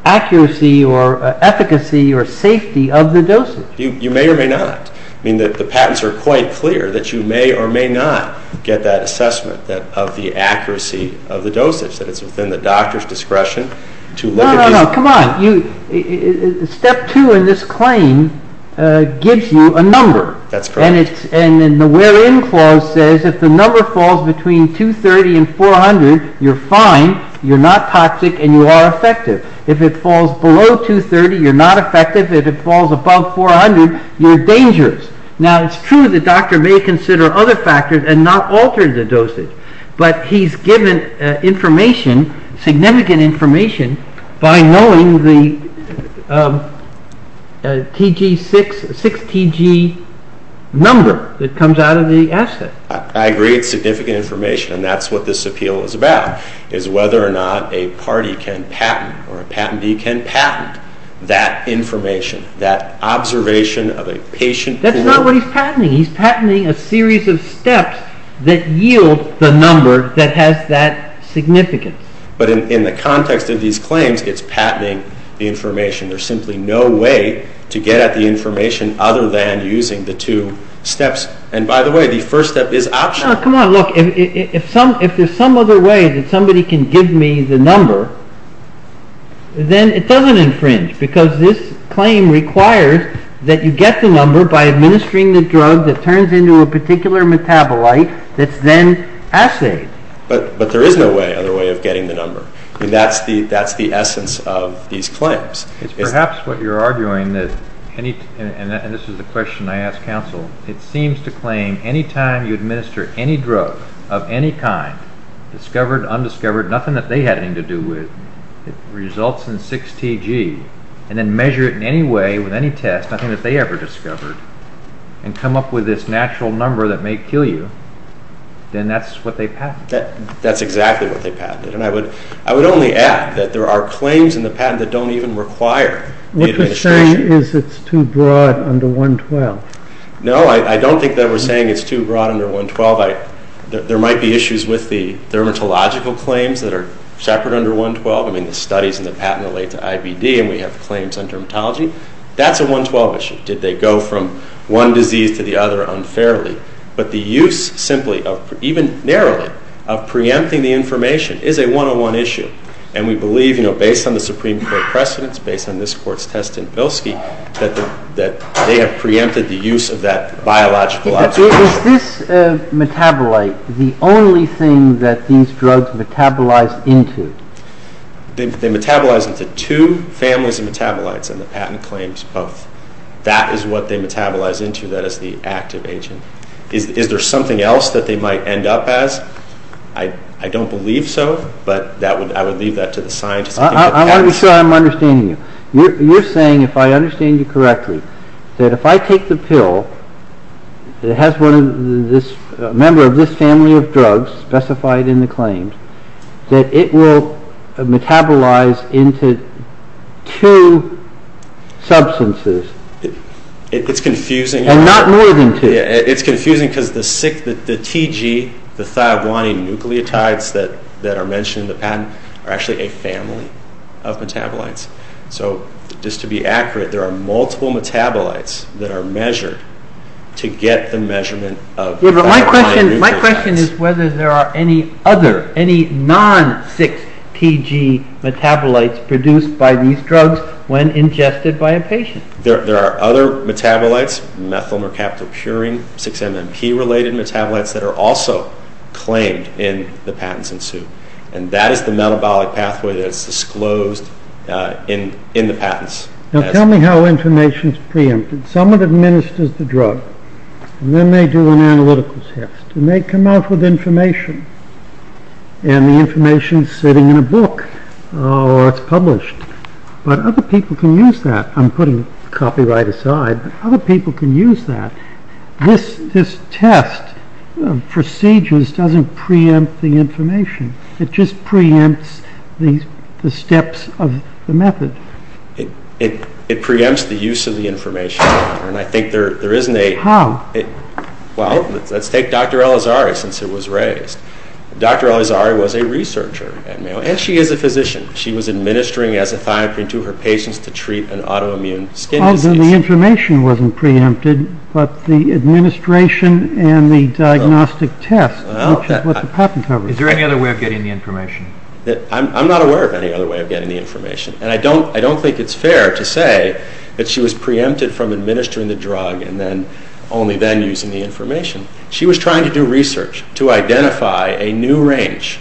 accuracy or efficacy or safety of the dosage. You may or may not. I mean, the patents are quite clear that you may or may not get that assessment of the accuracy of the dosage. That it's within the doctor's discretion to look at it. No, no, no, come on. Step two in this claim gives you a number. That's correct. And the wherein clause says if the number falls between 230 and 400, you're fine, you're not toxic, and you are effective. If it falls below 230, you're not effective. If it falls above 400, you're dangerous. Now, it's true the doctor may consider other factors and not alter the dosage. But he's given information, significant information, by knowing the 6TG number that comes out of the asset. I agree it's significant information, and that's what this appeal is about, is whether or not a party can patent or a patentee can patent that information, that observation of a patient. That's not what he's patenting. He's patenting a series of steps that yield the number that has that significance. But in the context of these claims, it's patenting the information. There's simply no way to get at the information other than using the two steps. And by the way, the first step is optional. Oh, come on. Look, if there's some other way that somebody can give me the number, then it doesn't infringe. Because this claim requires that you get the number by administering the drug that turns into a particular metabolite that's then assayed. But there is no other way of getting the number. That's the essence of these claims. It's perhaps what you're arguing, and this is the question I ask counsel. It seems to claim any time you administer any drug of any kind, discovered, undiscovered, nothing that they had anything to do with, results in 6TG, and then measure it in any way with any test, nothing that they ever discovered, and come up with this natural number that may kill you, then that's what they patented. That's exactly what they patented. I would only add that there are claims in the patent that don't even require the administration. What you're saying is it's too broad under 112. No, I don't think that we're saying it's too broad under 112. There might be issues with the dermatological claims that are separate under 112. I mean, the studies in the patent relate to IBD, and we have claims on dermatology. That's a 112 issue. Did they go from one disease to the other unfairly? But the use simply of, even narrowly, of preempting the information is a one-on-one issue, and we believe, you know, based on the Supreme Court precedents, based on this Court's test in Pilski, that they have preempted the use of that biological object. Does this metabolite the only thing that these drugs metabolize into? They metabolize into two families of metabolites in the patent claims. That is what they metabolize into. That is the active agent. Is there something else that they might end up as? I don't believe so, but I would leave that to the scientists. I want to be sure I'm understanding you. You're saying, if I understand you correctly, that if I take the pill, that it has one of this, a member of this family of drugs specified in the claims, that it will metabolize into two substances. It's confusing. Not more than two. It's confusing because the TG, the thiablonine nucleotides that are mentioned in the patent, are actually a family of metabolites. Just to be accurate, there are multiple metabolites that are measured to get the measurement of thiablonine nucleotides. My question is whether there are any other, any non-6-TG metabolites produced by these drugs when ingested by a patient. There are other metabolites, methylmercaptocurine, 6-MMP-related metabolites that are also claimed in the patents in Sioux. And that is the metabolic pathway that is disclosed in the patents. Now tell me how information is preempted. Someone administers the drug, and then they do an analytical test, and they come out with information. And the information is sitting in a book, or it's published. But other people can use that. I'm putting copyright aside, but other people can use that. This test, procedures, doesn't preempt the information. It just preempts the steps of the method. It preempts the use of the information. How? Well, let's take Dr. Elazari, since it was raised. Dr. Elazari was a researcher at Mayo, and she is a physician. She was administering ethithioprine to her patients to treat an autoimmune skin disease. Oh, then the information wasn't preempted, but the administration and the diagnostic test, which is what the patent covers. Is there any other way of getting the information? I'm not aware of any other way of getting the information. And I don't think it's fair to say that she was preempted from administering the drug and then only then using the information. She was trying to do research to identify a new range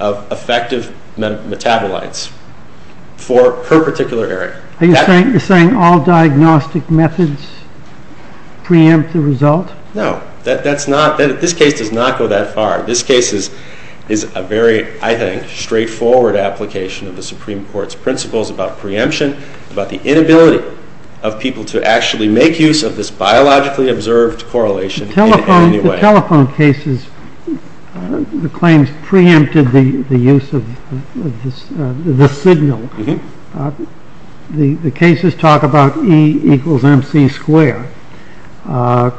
of effective metabolites for her particular area. Are you saying all diagnostic methods preempt the result? No, this case does not go that far. This case is a very, I think, straightforward application of the Supreme Court's principles about preemption, about the inability of people to actually make use of this biologically observed correlation in any way. In telephone cases, the claims preempted the use of the signal. The cases talk about E equals mc squared. But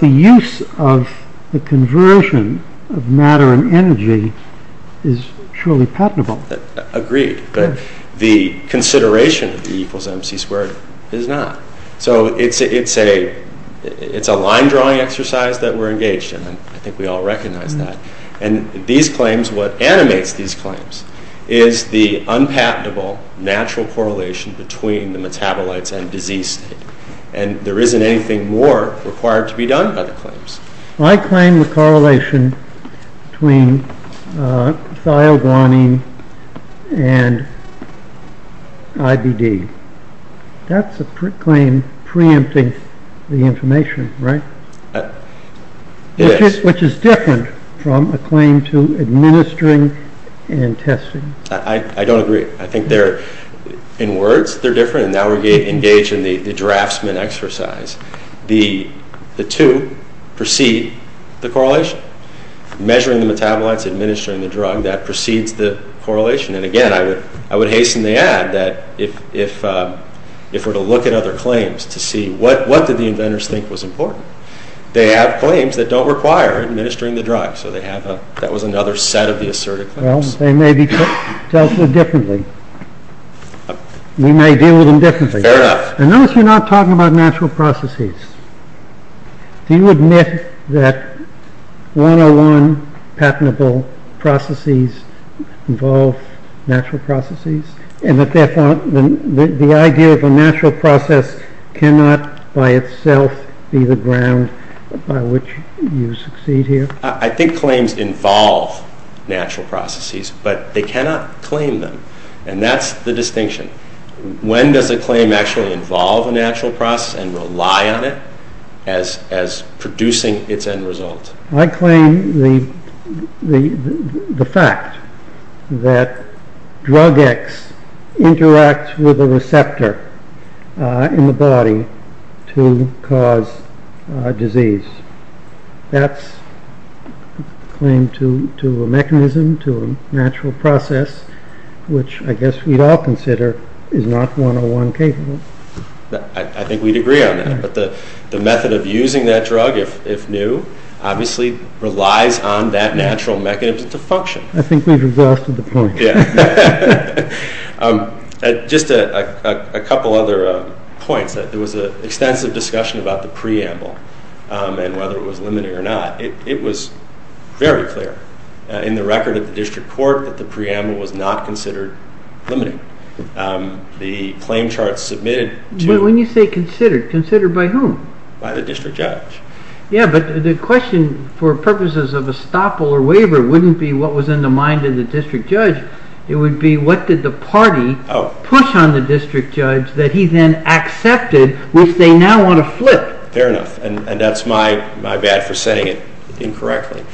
the use of the conversion of matter and energy is truly patentable. Agreed, but the consideration of E equals mc squared is not. So it's a line-drawing exercise that we're engaged in. I think we all recognize that. And these claims, what animates these claims is the unpatentable natural correlation between the metabolites and disease. And there isn't anything more required to be done about the claims. I claim the correlation between thioguanine and IBD. That's a claim preempting the information, right? Yes. Which is different from a claim to administering and testing. I don't agree. I think they're, in words, they're different, and that would be engaged in the draftsman exercise. The two precede the correlation. Measuring the metabolites, administering the drug, that precedes the correlation. And again, I would hasten to add that if we're to look at other claims to see what did the inventors think was important, they have claims that don't require administering the drug. So that was another set of the assertive claims. Well, they may be dealt with differently. We may deal with them differently. Fair enough. And notice we're not talking about natural processes. Do you admit that one-on-one patentable processes involve natural processes, and that therefore the idea of a natural process cannot by itself be the ground by which you succeed here? I think claims involve natural processes, but they cannot claim them. And that's the distinction. When does a claim actually involve a natural process and rely on it as producing its end result? I claim the fact that drug X interacts with a receptor in the body to cause disease. That's a claim to a mechanism, to a natural process, which I guess we'd all consider is not one-on-one capable. I think we'd agree on that. But the method of using that drug, if new, obviously relies on that natural mechanism to function. I think we've exhausted the point. Just a couple other points. There was an extensive discussion about the preamble and whether it was limited or not. It was very clear in the record of the district court that the preamble was not considered limited. The claim chart submitted to- When you say considered, considered by whom? By the district judge. Yeah, but the question for purposes of a stop or a waiver wouldn't be what was in the mind of the district judge. It would be what did the party push on the district judge that he then accepted, which they now want to flip? Fair enough, and that's my bad for saying it incorrectly.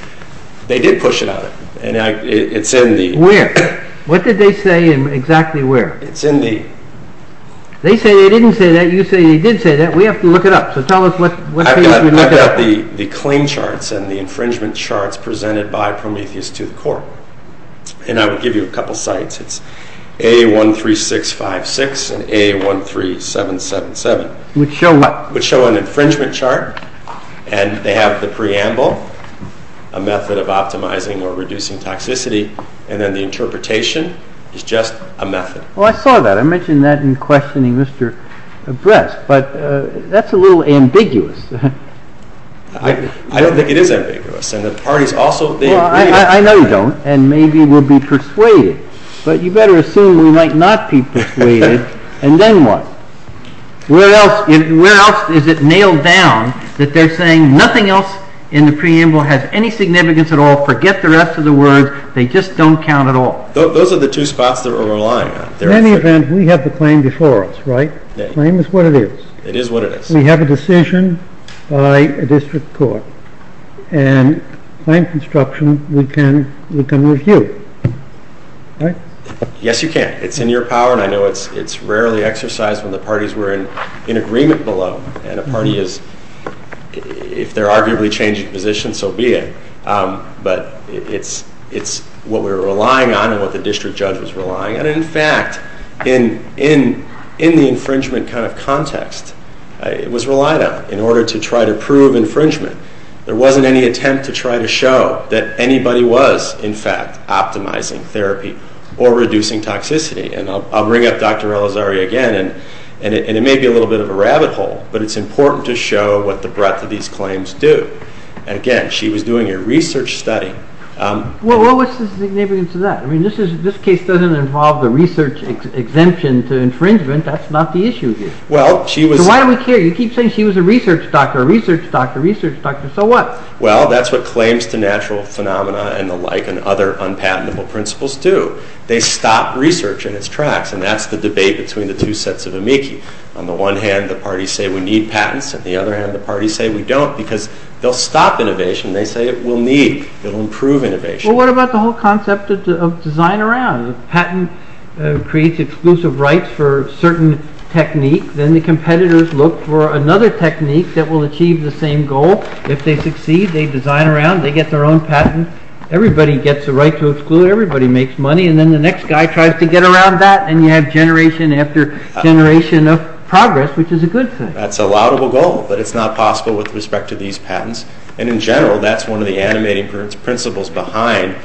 They did push it on him, and it's in the- Where? What did they say and exactly where? It's in the- They say they didn't say that. You say you did say that. We have to look it up, so tell us what- I've got the claim charts and the infringement charts presented by Prometheus to the court, and I will give you a couple of sites. It's A13656 and A13777, which show an infringement chart, and they have the preamble, a method of optimizing or reducing toxicity, and then the interpretation is just a method. Oh, I saw that. I mentioned that in questioning Mr. Brest, but that's a little ambiguous. I don't think it is ambiguous, and the parties also think- I know you don't, and maybe we'll be persuaded, but you better assume we might not be persuaded, and then what? Where else is it nailed down that they're saying nothing else in the preamble has any significance at all, forget the rest of the words, they just don't count at all? Those are the two spots that we're relying on. In any event, we have the claim before us, right? The claim is what it is. It is what it is. We have a decision by a district court, and claim construction, we can review, right? Yes, you can. It's in your power, and I know it's rarely exercised when the parties were in agreement below, and of course, if they're arguably changing positions, so be it, but it's what we're relying on and what the district judge is relying on. In fact, in the infringement kind of context, it was relied on in order to try to prove infringement. There wasn't any attempt to try to show that anybody was, in fact, optimizing therapy or reducing toxicity, and I'll bring up Dr. Elizario again, and it may be a little bit of a rabbit hole, but it's important to show what the breadth of these claims do. Again, she was doing a research study. Well, what's the significance of that? I mean, this case doesn't involve a research exemption to infringement. That's not the issue here. Well, she was... So why do we care? You keep saying she was a research doctor, a research doctor, a research doctor, so what? Well, that's what claims to natural phenomena and the like and other unpatentable principles do. They stop research in its tracks, and that's the debate between the two sets of amici. On the one hand, the parties say we need patents. On the other hand, the parties say we don't because they'll stop innovation. They say it will need, it will improve innovation. Well, what about the whole concept of design around? If a patent creates exclusive rights for a certain technique, then the competitors look for another technique that will achieve the same goal. If they succeed, they design around, they get their own patent. Everybody gets a right to exclude, everybody makes money, and then the next guy tries to get around that, and you have generation after generation of progress, which is a good thing. That's a laudable goal, but it's not possible with respect to these patents. And in general, that's one of the animating principles behind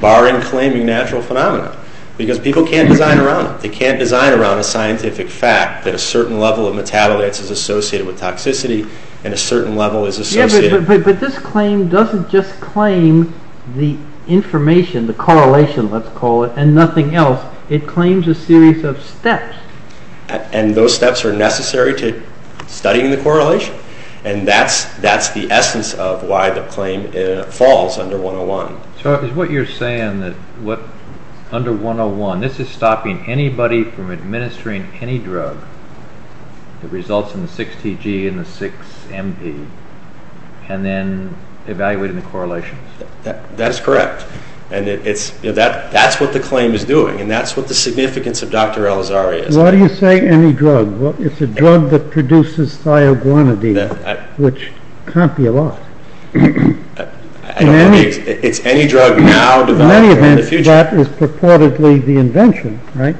barring claiming natural phenomena because people can't design around it. They can't design around a scientific fact that a certain level of metabolites is associated with toxicity and a certain level is associated... But this claim doesn't just claim the information, the correlation, let's call it, and nothing else. It claims a series of steps. And those steps are necessary to studying the correlation, and that's the essence of why the claim falls under 101. So is what you're saying that under 101, this is stopping anybody from administering any drug that results in the 6CG and the 6MD, and then evaluating correlations? That's correct. And that's what the claim is doing, and that's what the significance of Dr. Elazar is. Why do you say any drug? It's a drug that produces thioguanidine, which can't be lost. I don't believe it. It's any drug now developed in the future. In any event, that is purportedly the invention, right?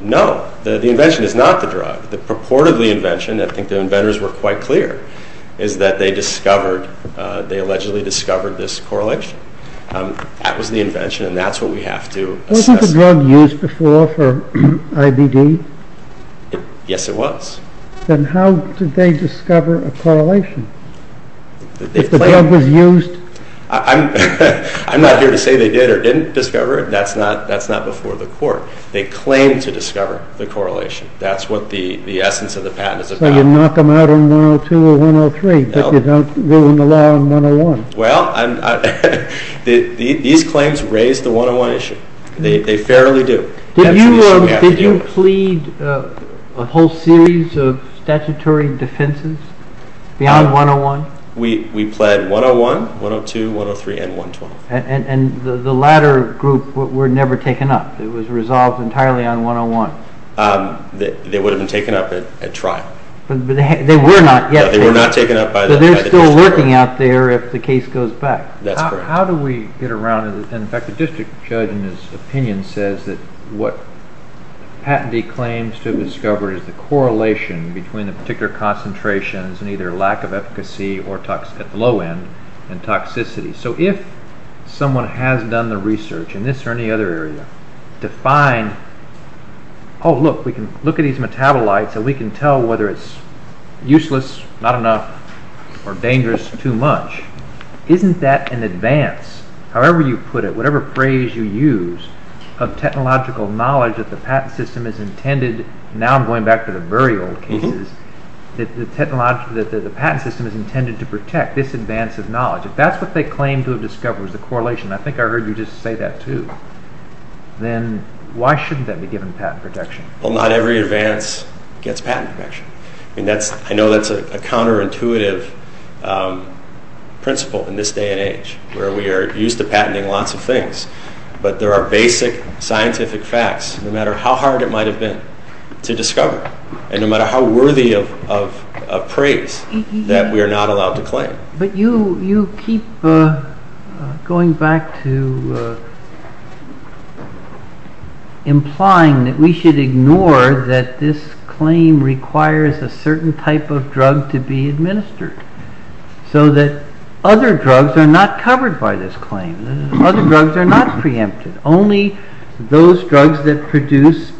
No, the invention is not the drug. The purportedly invention, I think the inventors were quite clear, is that they discovered, they allegedly discovered this correlation. That was the invention, and that's what we have to assess. Wasn't the drug used before for IBD? Yes, it was. Then how did they discover a correlation? If the drug was used... I'm not here to say they did or didn't discover it. That's not before the court. They claimed to discover the correlation. That's what the essence of the patent is about. So you knock them out on 102 or 103, but you don't rule in the law on 101? Well, these claims raise the 101 issue. They fairly do. Did you plead a whole series of statutory defenses beyond 101? We pled 101, 102, 103, and 120. And the latter group were never taken up. It was resolved entirely on 101. They would have been taken up at trial. They were not yet taken up. But they're still lurking out there if the case goes back. That's correct. How do we get around this? In fact, the district judge, in his opinion, says that what Patente claims to have discovered is the correlation between the particular concentrations and either lack of efficacy or low end and toxicity. So if someone has done the research in this or any other area to find, oh, look, we can look at these metabolites and we can tell whether it's useless, not enough, or dangerous, too much, isn't that an advance, however you put it, whatever phrase you use, of technological knowledge that the patent system is intended, now I'm going back to the burial cases, that the patent system is intended to protect this advance of knowledge? If that's what they claim to have discovered was the correlation, and I think I heard you just say that, too, then why shouldn't that be given patent protection? Well, not every advance gets patent protection. I know that's a counterintuitive principle in this day and age where we are used to patenting lots of things, but there are basic scientific facts, no matter how hard it might have been to discover and no matter how worthy of praise that we are not allowed to claim. But you keep going back to implying that we should ignore that this claim requires a certain type of drug to be administered, so that other drugs are not covered by this claim, other drugs are not preempted, only those drugs that produce,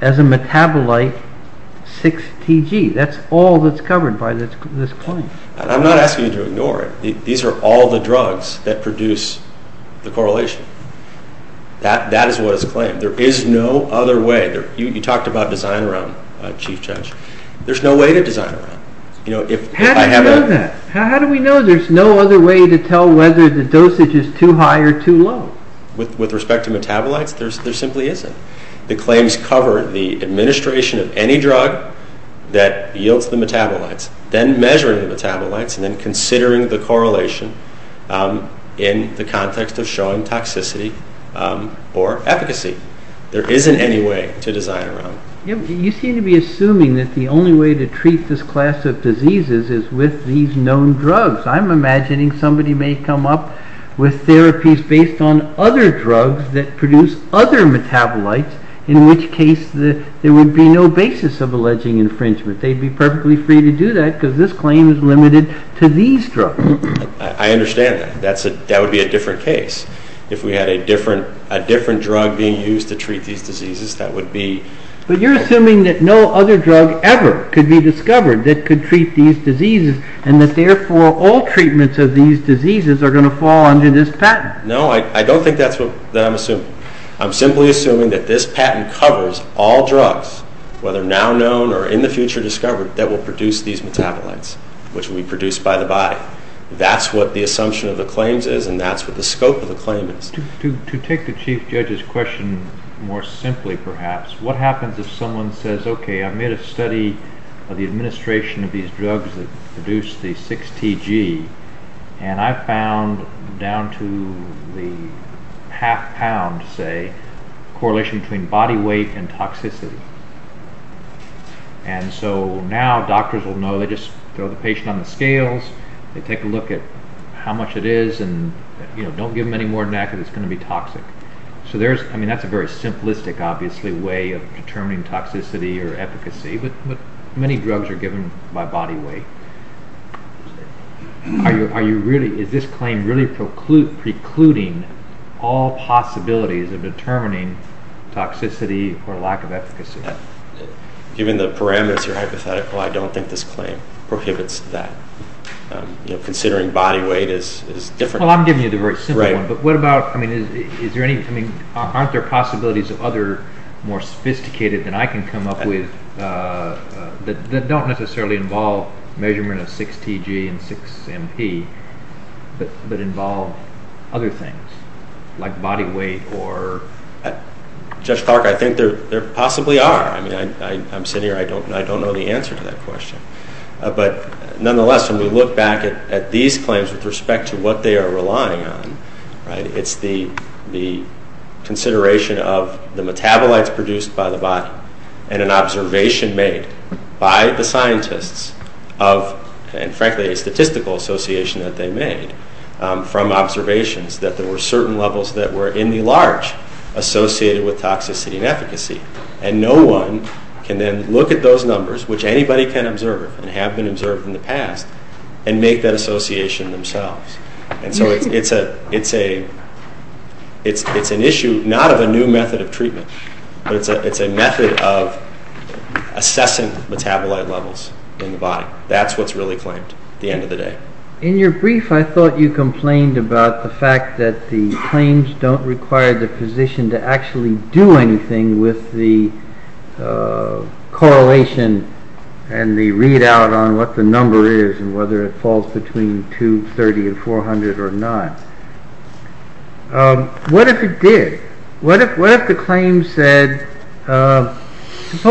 as a metabolite, 6TG, that's all that's covered by this claim. I'm not asking you to ignore it. These are all the drugs that produce the correlation. That is what is claimed. There is no other way. You talked about design realm, Chief Judge. There's no way to design realm. How do we know that? How do we know there's no other way to tell whether the dosage is too high or too low? With respect to metabolites, there simply isn't. The claims cover the administration of any drug that yields the metabolites, then measuring the metabolites, and then considering the correlation in the context of showing toxicity or efficacy. There isn't any way to design realm. You seem to be assuming that the only way to treat this class of diseases is with these known drugs. I'm imagining somebody may come up with therapies based on other drugs that produce other metabolites, in which case there would be no basis of alleging infringement. They'd be perfectly free to do that because this claim is limited to these drugs. I understand that. That would be a different case. If we had a different drug being used to treat these diseases, that would be... But you're assuming that no other drug ever could be discovered that could treat these diseases and that therefore all treatments of these diseases are going to fall under this patent. No, I don't think that's what I'm assuming. I'm simply assuming that this patent covers all drugs, whether now known or in the future discovered, that will produce these metabolites, which will be produced by the buy. That's what the assumption of the claims is, and that's what the scope of the claim is. To take the chief judge's question more simply, perhaps, what happens if someone says, okay, I made a study of the administration of these drugs that produce the 6TG, and I found down to the half pound, say, there's a correlation between body weight and toxicity. And so now doctors will know, they just go to the patient on the scales, they take a look at how much it is, and don't give them any more than that because it's going to be toxic. That's a very simplistic, obviously, way of determining toxicity or efficacy, but many drugs are given by body weight. Is this claim really precluding all possibilities of determining toxicity or lack of efficacy? Given the parameters you're hypothesizing, I don't think this claim prohibits that. Considering body weight is different. Well, I'm giving you the very simple one, but what about, I mean, aren't there possibilities of other more sophisticated that I can come up with that don't necessarily involve measurement of 6TG and 6MP, but involve other things like body weight or... Judge Clark, I think there possibly are. I mean, I'm sitting here, I don't know the answer to that question. But nonetheless, when we look back at these claims with respect to what they are relying on, it's the consideration of the metabolites produced by the bot and an observation made by the scientists and, frankly, a statistical association that they made from observations that there were certain levels that were in the large associated with toxicity and efficacy. And no one can then look at those numbers, which anybody can observe and have been observed in the past, and make that association themselves. And so it's an issue not of a new method of treatment, but it's a method of assessing metabolite levels in the bot. That's what's really claimed at the end of the day. In your brief, I thought you complained about the fact that the claims don't require the physician to actually do anything with the correlation and the readout on what the number is and whether it falls between 230 and 400 or not. What if it did? What if the claims said... ...it's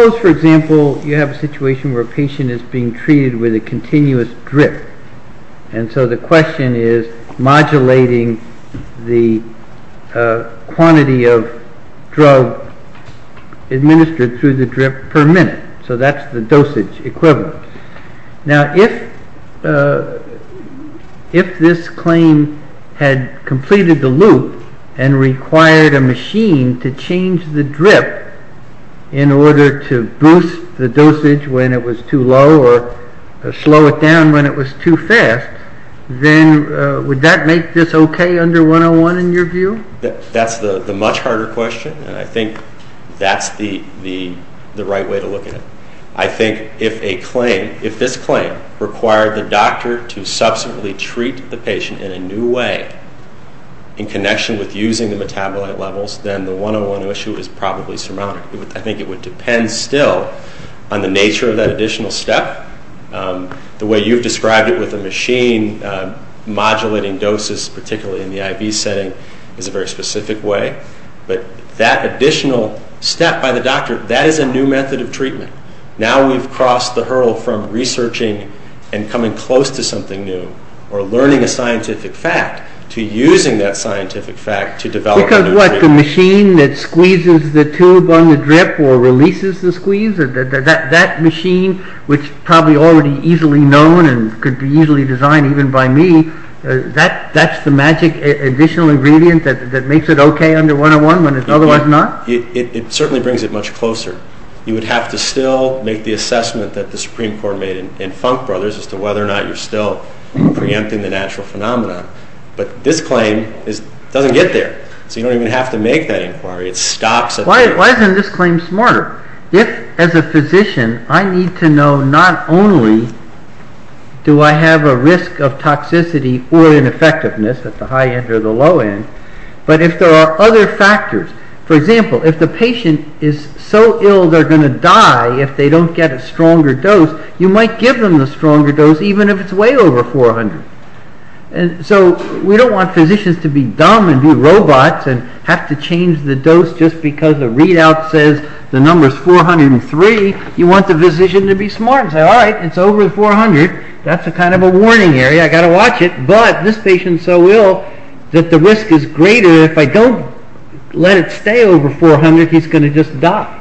being treated with a continuous drip? And so the question is modulating the quantity of drug administered through the drip per minute. So that's the dosage equivalent. Now, if this claim had completed the loop and required a machine to change the drip in order to boost the dosage when it was too low or slow it down when it was too fast, then would that make this okay under 101 in your view? That's the much harder question, and I think that's the right way to look at it. I think if this claim required the doctor to subsequently treat the patient in a new way in connection with using the metabolite levels, then the 101 issue is probably surmountable. I think it would depend still on the nature of that additional step. The way you've described it with the machine modulating doses, particularly in the IV setting, is a very specific way. But that additional step by the doctor, that is a new method of treatment. Now we've crossed the hurdle from researching and coming close to something new or learning a scientific fact to using that scientific fact to develop a new treatment. Because what, the machine that squeezes the tube on the drip or releases the squeeze? That machine, which is probably already easily known and could be easily designed even by me, that's the magic additional ingredient that makes it okay under 101 when it's otherwise not? It certainly brings it much closer. You would have to still make the assessment that the Supreme Court made in Funk Brothers as to whether or not you're still preempting the natural phenomenon. But this claim doesn't get there. So you don't even have to make that inquiry. Why isn't this claim smart? If, as a physician, I need to know not only do I have a risk of toxicity or ineffectiveness at the high end or the low end, but if there are other factors. For example, if the patient is so ill they're going to die if they don't get a stronger dose, you might give them the stronger dose even if it's way over 400. So we don't want physicians to be dumb and do robots and have to change the dose just because the readout says the number is 403. You want the physician to be smart and say, all right, it's over 400. That's kind of a warning area. I've got to watch it. But this patient is so ill that the risk is greater if I don't let it stay over 400. He's going to just die.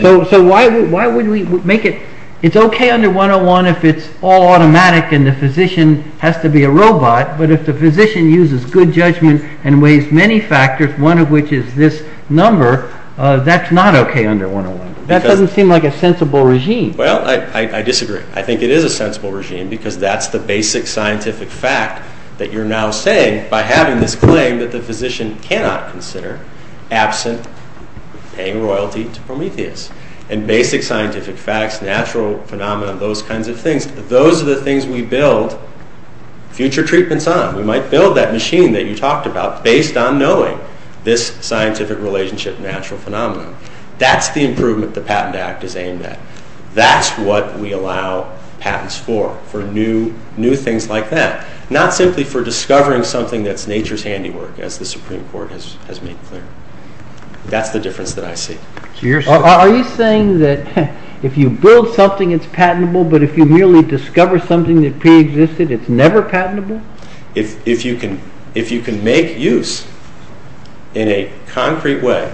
So why wouldn't we make it... It's okay under 101 if it's all automatic and the physician has to be a robot, but if the physician uses good judgment and weighs many factors, one of which is this number, that's not okay under 101. That doesn't seem like a sensible regime. Well, I disagree. I think it is a sensible regime because that's the basic scientific fact that you're now saying by having this claim that the physician cannot consider absent gang royalty to Prometheus. And basic scientific facts, natural phenomenon, those kinds of things, those are the things we build future treatments on. We might build that machine that you talked about based on knowing this scientific relationship and natural phenomenon. That's the improvement the Patent Act is aimed at. That's what we allow patents for, for new things like that, not simply for discovering something that's nature's handiwork, as the Supreme Court has made clear. That's the difference that I see. Are you saying that if you build something, it's patentable, but if you merely discover something that preexisted, it's never patentable? If you can make use, in a concrete way,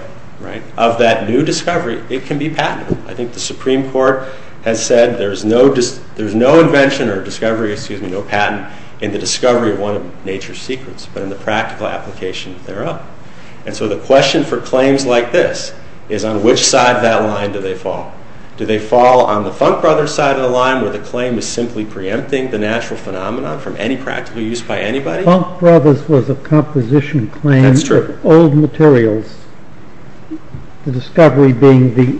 of that new discovery, it can be patentable. I think the Supreme Court has said there's no invention or discovery, excuse me, no patent, in the discovery of one of nature's secrets, but in the practical application thereof. And so the question for claims like this is on which side of that line do they fall? Do they fall on the Funk Brothers side of the line, where the claim is simply preempting the natural phenomenon from any practical use by anybody? Funk Brothers was a composition claim for old materials, the discovery being the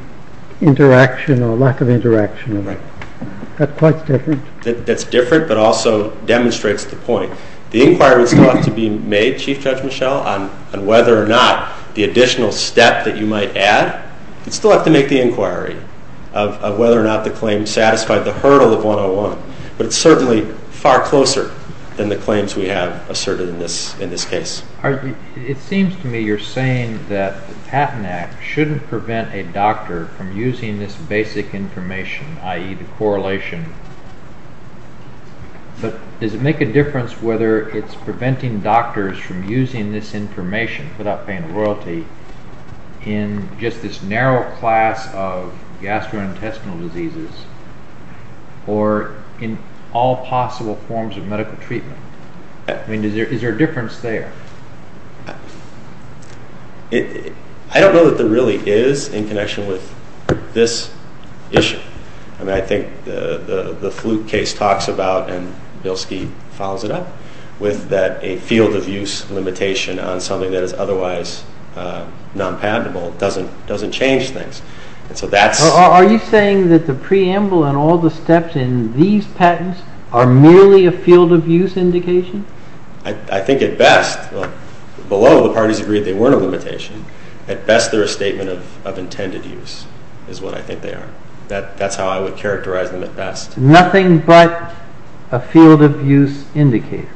interaction or lack of interaction. That's quite different. That's different, but also demonstrates the point. The inquiry still has to be made, Chief Judge Michel, on whether or not the additional steps that you might add. We still have to make the inquiry of whether or not the claim satisfied the hurdle of 101. But it's certainly far closer than the claims we have asserted in this case. It seems to me you're saying that the Patent Act shouldn't prevent a doctor from using this basic information, i.e., the correlation. But does it make a difference whether it's preventing doctors from using this information, without paying royalty, in just this narrow class of gastrointestinal diseases, or in all possible forms of medical treatment? Is there a difference there? I don't know that there really is, in connection with this issue. I think the flute case talks about, and Bill Steeve follows it up, that a field-of-use limitation on something that is otherwise non-patentable doesn't change things. Are you saying that the preamble and all the steps in these patents are merely a field-of-use indication? I think at best, below the parties agreed they weren't a limitation, at best they're a statement of intended use, is what I think they are. That's how I would characterize them at best. Nothing but a field-of-use indicator.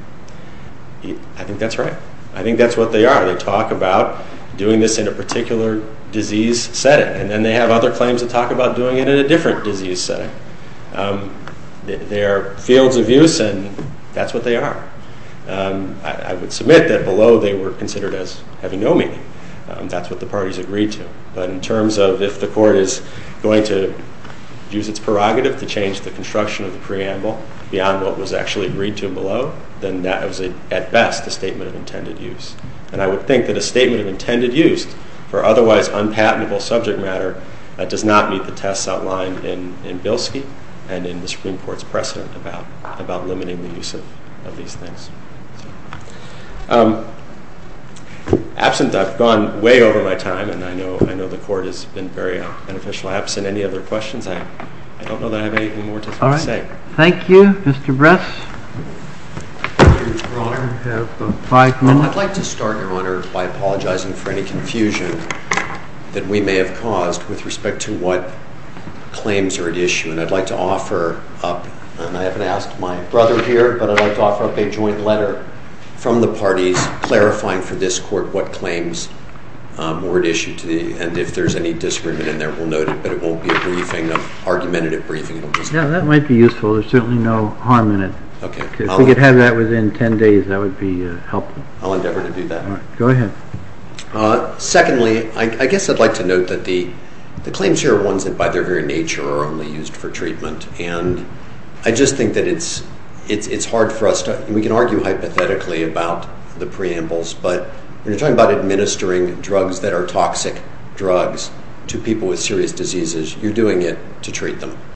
I think that's right. I think that's what they are. They talk about doing this in a particular disease setting, and then they have other claims that talk about doing it in a different disease setting. They're fields-of-use, and that's what they are. I would submit that below, they were considered as having no meaning. That's what the parties agreed to. But in terms of, if the court is going to use its prerogative to change the construction of the preamble, beyond what was actually agreed to below, then that is, at best, a statement of intended use. And I would think that a statement of intended use for otherwise unpatentable subject matter does not meet the tests outlined in Bilski and in the Supreme Court's precedent about limiting the use of these things. Absence, I've gone way over my time, and I know the Court has been very beneficial. Absent any other questions, I don't know that I have anything more to say. Thank you, Mr. Bress. Mr. O'Rourke, you have five minutes. I'd like to start, Your Honor, by apologizing for any confusion that we may have caused with respect to what claims are at issue. And I'd like to offer up, and I haven't asked my brother here, but I'd like to offer up a joint letter from the parties clarifying for this Court what claims were at issue today. And if there's any disagreement in there, we'll note that it won't be a briefing, an argumentative briefing. Yeah, that might be useful. There's certainly no harm in it. If we could have that within ten days, that would be helpful. I'll endeavor to do that. All right, go ahead. Secondly, I guess I'd like to note that the claims here are ones that, by their very nature, are only used for treatment. And I just think that it's hard for us to... We can argue hypothetically about the preambles, but when you're talking about administering drugs that are toxic drugs to people with serious diseases, you're doing it to treat them.